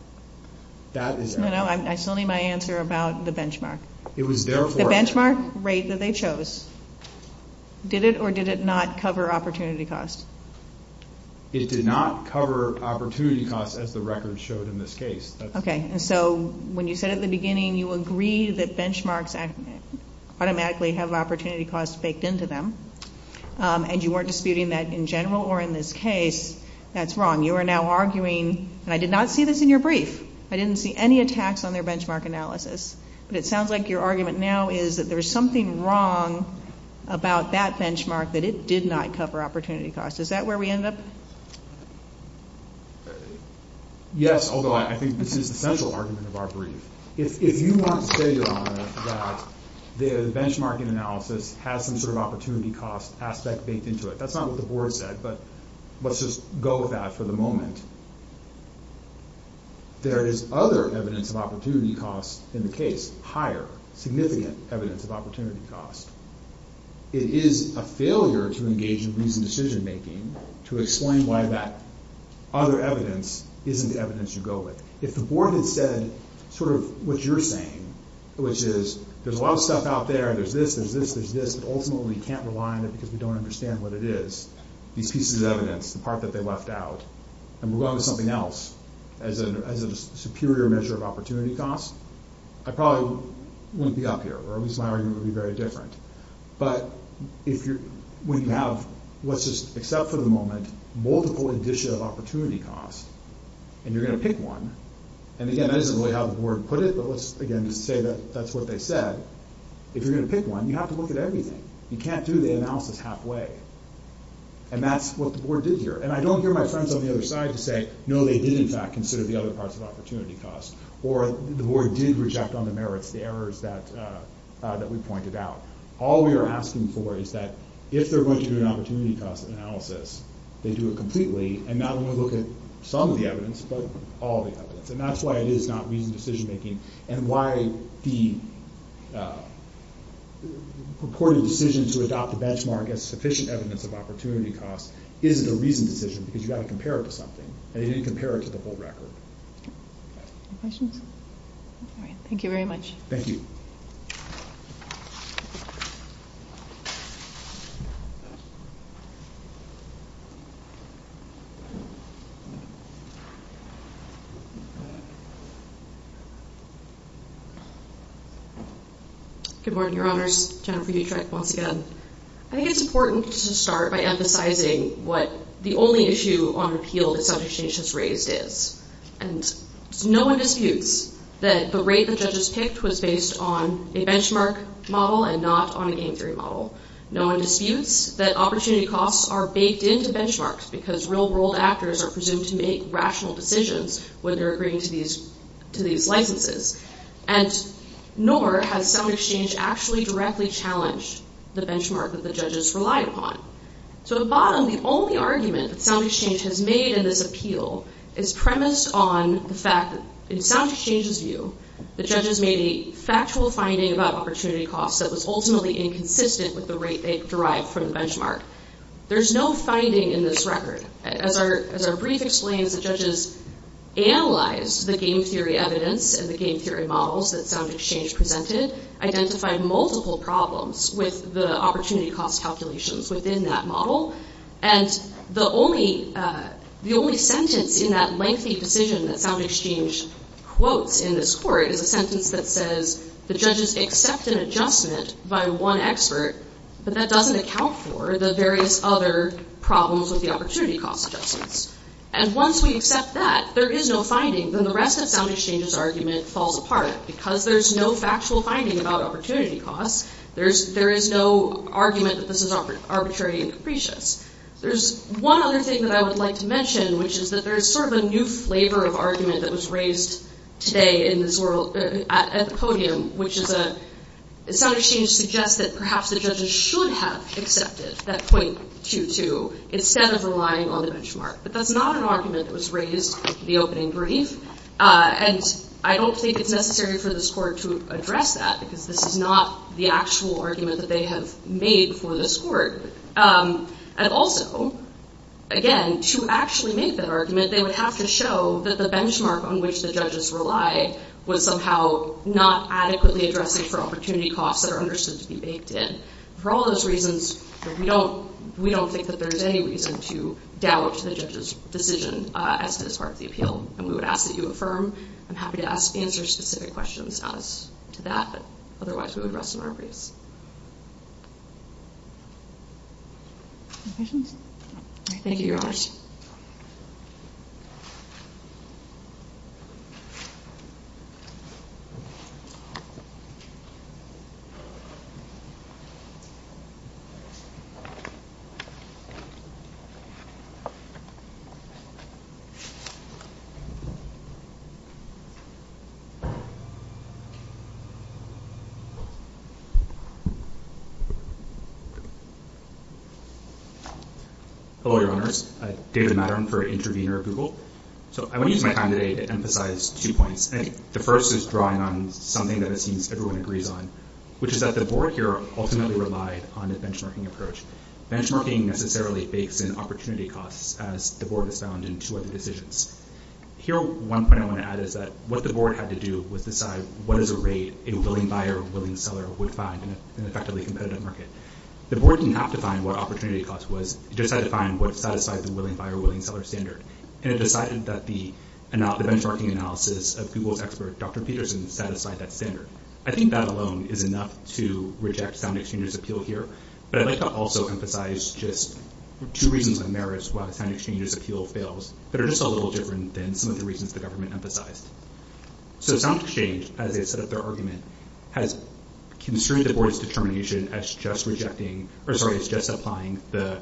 That is error. No, no. That's only my answer about the benchmark. The benchmark rate that they chose, Did it or did it not cover opportunity cost? It did not cover opportunity cost as the record showed in this case. Okay. And so when you said at the beginning you agree that benchmarks automatically have opportunity cost baked into them, and you weren't disputing that in general or in this case, that's wrong. You are now arguing, and I did not see this in your brief, I didn't see any attacks on their benchmark analysis, but it sounds like your argument now is that there is something wrong about that benchmark that it did not cover opportunity cost. Is that where we end up? Yes, although I think this is the central argument of our brief. If you want to say that the benchmarking analysis has some sort of opportunity cost aspect baked into it, that's not what the board said, but let's just go with that for the moment. There is other evidence of opportunity cost in the case, higher, significant evidence of opportunity cost. It is a failure to engage in reasoned decision making to explain why that other evidence isn't the evidence you go with. If the board had said sort of what you're saying, which is there's a lot of stuff out there, there's this, there's this, there's this, and ultimately we can't rely on it because we don't understand what it is, these pieces of evidence, the part that they left out, and move on to something else as a superior measure of opportunity cost, I probably wouldn't be up here, or at least my argument would be very different. But when you have, let's just accept for the moment, multiple indicia of opportunity cost, and you're going to pick one, and again, that isn't really how the board put it, but let's again say that that's what they said. If you're going to pick one, you have to look at everything. You can't do the analysis halfway. And that's what the board did here. And I don't hear my sons on the other side say, no, they did in fact consider the other parts of opportunity cost, or the board did reject on the merits the errors that we pointed out. All we are asking for is that if they're going to do an opportunity cost analysis, they do it completely, and not only look at some of the evidence, but all the evidence. And that's why it is not reasoned decision making, and why the purported decision to adopt the benchmark as sufficient evidence of opportunity cost isn't a reasoned decision, because you've got to compare it to something, and you didn't compare it to the whole record. Any questions? Thank you very much. Thank you. Good morning, Your Honors. Jennifer Butrek, once again. I think it's important to start by emphasizing what the only issue on appeal that subject change has raised is. And no one disputes that the rate that judges picked was based on a benchmark model and not on a game theory model. No one disputes that opportunity costs are baked into benchmarks, because real world actors are presumed to make rational decisions when they're agreeing to these licenses. And nor has sound exchange actually directly challenged the benchmark that the judges rely upon. So the bottom, the only argument that sound exchange has made in this appeal is premised on the fact that in sound exchange's view, the judges made a factual finding about opportunity costs that was ultimately inconsistent with the rate they derived from the benchmark. There's no finding in this record. As our brief explains, the judges analyzed the game theory evidence and the game theory models that sound exchange presented, identified multiple problems with the opportunity cost calculations within that model. And the only sentence in that lengthy decision that sound exchange quotes in this court is a sentence that says the judges accept an adjustment by one expert, but that doesn't account for the various other problems with the opportunity cost adjustments. And once we accept that, there is no finding, then the rest of sound exchange's argument falls apart. Because there's no factual finding about opportunity costs, there is no argument that this is arbitrary and capricious. There's one other thing that I would like to mention, which is that there's sort of a new flavor of argument that was raised today at the podium, which is that sound exchange suggests that perhaps the judges should have accepted that 0.22 instead of relying on the benchmark. But that's not an argument that was raised in the opening brief, and I don't think it's necessary for this court to address that, because this is not the actual argument that they have made for this court. And also, again, to actually make that argument, they would have to show that the benchmark on which the judges rely would somehow not adequately address the opportunity costs that are understood to be based in. For all those reasons, we don't think that there's any reason to doubt the judge's decision as to this part of the appeal. And we would ask that you affirm. I'm happy to answer specific questions on that, but otherwise we would rest in our briefs. Thank you very much. Thank you. Hello, Your Honors. I'm David Mattern for Intervenor Google. So I'm going to use my time today to emphasize two points. The first is drawing on something that it seems everyone agrees on, which is that the board here ultimately relied on the benchmarking approach. Benchmarking necessarily fakes in opportunity costs, as the board has found in two other decisions. Here, one point I want to add is that what the board had to do was decide what is the rate a willing buyer or a willing seller would find in an effectively competitive market. The board didn't have to find what opportunity cost was. It just had to find what satisfied the willing buyer or willing seller standard. And it decided that the benchmarking analysis of Google's expert, Dr. Peterson, satisfied that standard. I think that alone is enough to reject SoundExchange's appeal here. But I'd like to also emphasize just two reasons on merits why SoundExchange's appeal fails, but are just a little different than some of the reasons the government emphasized. So SoundExchange, as they have set up their argument, has construed the board's determination as just rejecting, or sorry, it's just applying the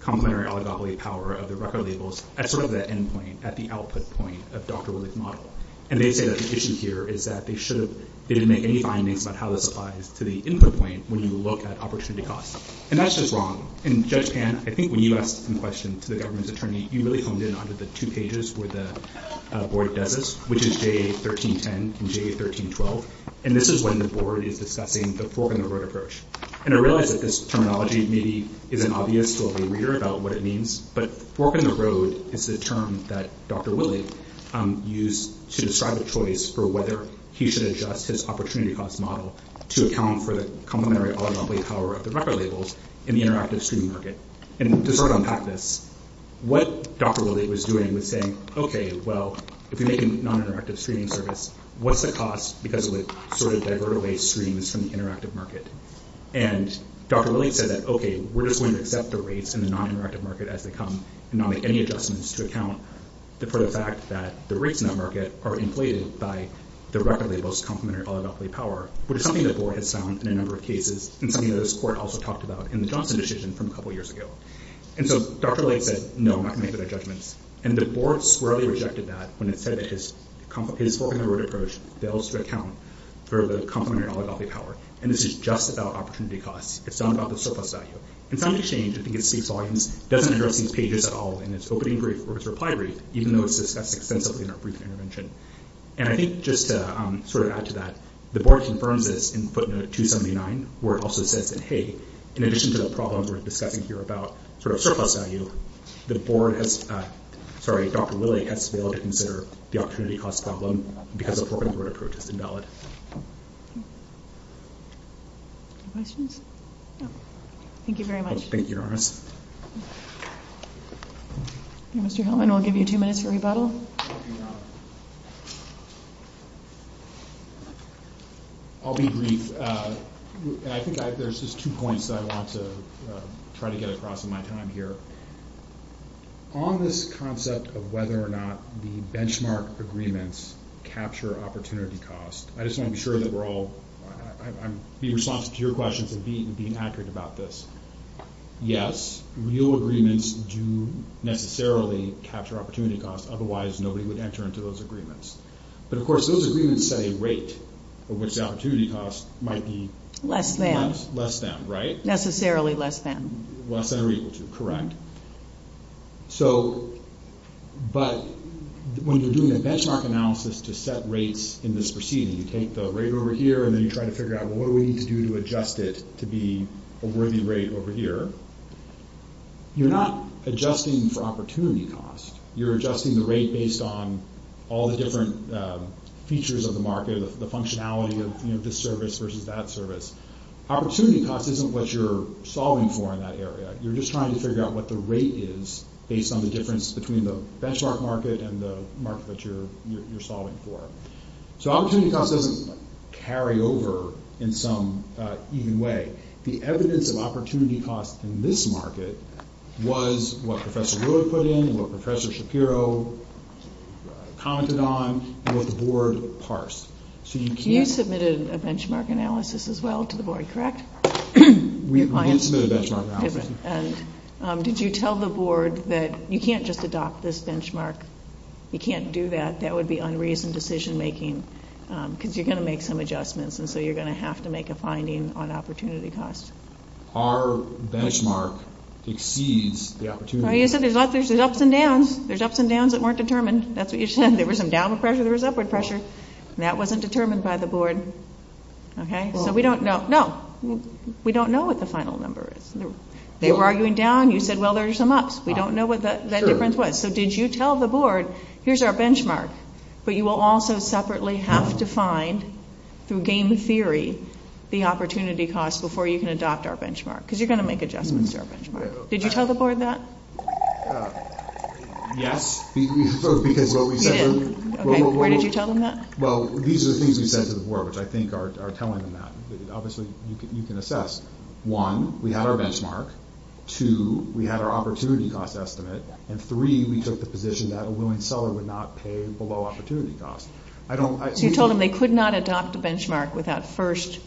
complimentary authority power of the record labels at sort of the end point, at the output point of Dr. Woodley's model. And they say that the issue here is that they shouldn't make any findings about how this applies to the input point when you look at opportunity costs. And that's just wrong. And Judge Pant, I think when you asked this question to the government's attorney, you really come in under the two pages where the board does this, which is day 1310 and day 1312. And this is when the board is discussing the four-finger road approach. And I realize that this terminology maybe isn't obvious to a reader about what it means, but four-finger road is the term that Dr. Woodley used to describe a choice for whether he should adjust his opportunity cost model to account for the complimentary authority power of the record labels in the interactive streaming market. And to sort of unpack this, what Dr. Woodley was doing was saying, okay, well, if you're making non-interactive streaming service, what's the cost because it would sort of divert away streams from the interactive market? And Dr. Woodley said that, okay, we're just going to accept the rates in the non-interactive market as they come and not make any adjustments to account for the fact that the rates in the market are inflated by the record labels complimentary authority power, which is something the board has found in a number of cases and something that this court also talked about in the Johnson decision from a couple years ago. And so Dr. Woodley said, no, I'm not going to make that judgment. And the board squarely rejected that when it said that his broken-the-record approach fails to account for the complimentary authority power. And this is just about opportunity cost. It's not about the surplus value. It's not an exchange. I think it speaks volumes. It doesn't address these pages at all in its opening brief or its reply brief, even though it's discussed extensively in our brief intervention. And I think just to sort of add to that, the board confirms this in footnote 279 where it also says that, hey, in addition to the problems we're discussing here about sort of surplus value, the board has-sorry, Dr. Woodley has failed to consider the opportunity cost problem because of the broken-the-record approach invalid. Questions? No. Thank you very much. Thank you, Your Honor. Mr. Hellman, I'll give you two minutes for rebuttal. I'll be brief. I think there's just two points that I want to try to get across in my time here. On this concept of whether or not the benchmark agreements capture opportunity cost, I just want to be sure that we're all-I'll be responsive to your question for being accurate about this. Yes, real agreements do necessarily capture opportunity cost. Otherwise, nobody would enter into those agreements. But, of course, those agreements set a rate for which the opportunity cost might be- Less than. Less than, right? Necessarily less than. Less than or equal to, correct. So-but when you're doing a benchmark analysis to set rates in this proceeding, you take the rate over here and then you try to figure out, well, what do we need to do to adjust it to be a worthy rate over here? You're not adjusting for opportunity cost. You're adjusting the rate based on all the different features of the market, the functionality of this service versus that service. Opportunity cost isn't what you're solving for in that area. You're just trying to figure out what the rate is based on the difference between the benchmark market and the market that you're solving for. So opportunity cost doesn't carry over in some even way. The evidence of opportunity cost in this market was what Professor Lord put in, what Professor Shapiro commented on, and what the board parsed. So you can't- You submitted a benchmark analysis as well to the board, correct? We did submit a benchmark analysis. Did you tell the board that you can't just adopt this benchmark? You can't do that. That would be unreasoned decision making because you're going to make some adjustments and so you're going to have to make a finding on opportunity cost. Our benchmark exceeds the opportunity cost. No, you said there's ups and downs. There's ups and downs that weren't determined. That's what you said. There was some downward pressure. There was upward pressure. That wasn't determined by the board. So we don't know. No, we don't know what the final number is. They were arguing down. You said, well, there's some ups. We don't know what that difference was. So did you tell the board, here's our benchmark, but you will also separately have to find, through game theory, the opportunity cost before you can adopt our benchmark because you're going to make adjustments to our benchmark. Did you tell the board that? Yes. You did? Where did you tell them that? Well, these are the things we said to the board, which I think are telling them that. Obviously, you can assess. One, we had our benchmark. Two, we had our opportunity cost estimate. And three, we took the position that a willing seller would not pay below opportunity cost. You told them they could not adopt a benchmark without first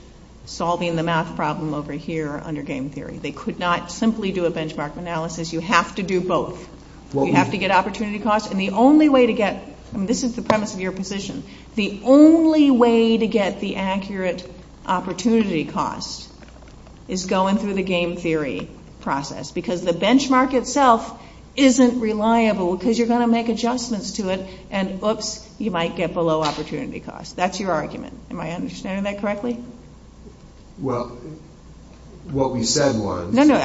solving the math problem over here under game theory. They could not simply do a benchmark analysis. You have to do both. You have to get opportunity cost. And the only way to get, and this is the premise of your position, the only way to get the accurate opportunity cost is going through the game theory process because the benchmark itself isn't reliable because you're going to make adjustments to it and, whoops, you might get below opportunity cost. That's your argument. Am I understanding that correctly? Well, what we said was... No, no,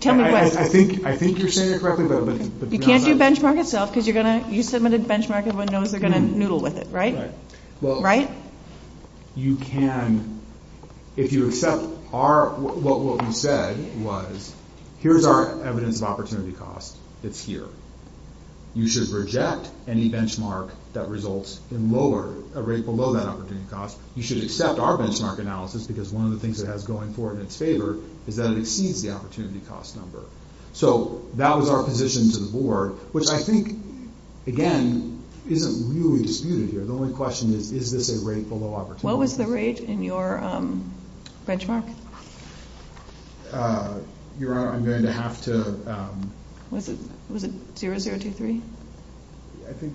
tell me what... I think you're saying it correctly, but... You can't do benchmark itself because you're going to use some of the benchmark and one knows we're going to noodle with it, right? Right? Well, you can... If you accept our... What we said was, here's our evidence of opportunity cost. It's here. You should reject any benchmark that results in lower, a rate below that opportunity cost. You should accept our benchmark analysis because one of the things it has going for it in its favor is that it exceeds the opportunity cost number. So that was our position to the board, which I think, again, isn't really disputed here. The only question is, is this a rate below opportunity cost? What was the rate in your benchmark? Your Honor, I'm going to have to... Was it 0, 0, 2, 3? I think...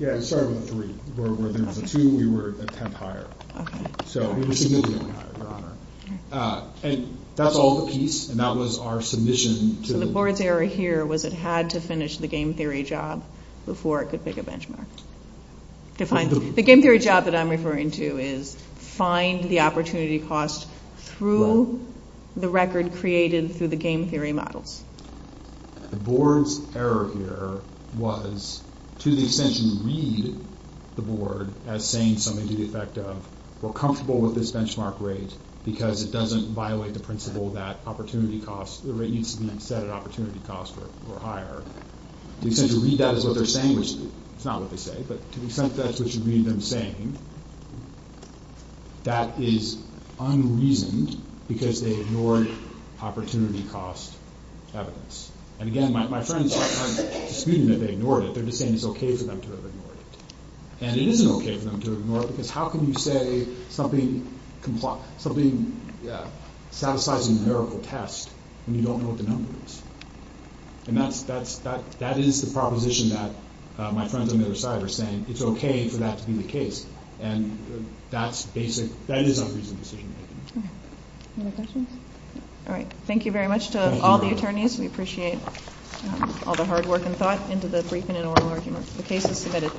Yeah, it started with a 3. There was a 2. We were a tenth higher. Okay. So we were significantly higher, Your Honor. And that's all the piece, and that was our submission to the... So the board's error here was it had to finish the game theory job before it could pick a benchmark. The game theory job that I'm referring to is find the opportunity cost through the record created through the game theory model. The board's error here was, to the extent you read the board as saying something to the effect of, we're comfortable with this benchmark rate because it doesn't violate the principle that the rate needs to be set at opportunity cost or higher. To the extent you read that as what they're saying, which is not what they say, but to the extent that's what you read them saying, that is unreasoned because they ignored opportunity cost evidence. And again, my friends, I'm not disputing that they ignored it. They're just saying it's okay for them to have ignored it. And it is okay for them to have ignored it because how can you say something satisfies an empirical test when you don't know what the number is? And that is the proposition that my friends on the other side are saying. It's okay for that to be the case. And that is a reasonable decision to make. Any other questions? All right. Thank you very much to all the attorneys. We appreciate all the hard work and thought into the brief and interim arguments. The case is submitted.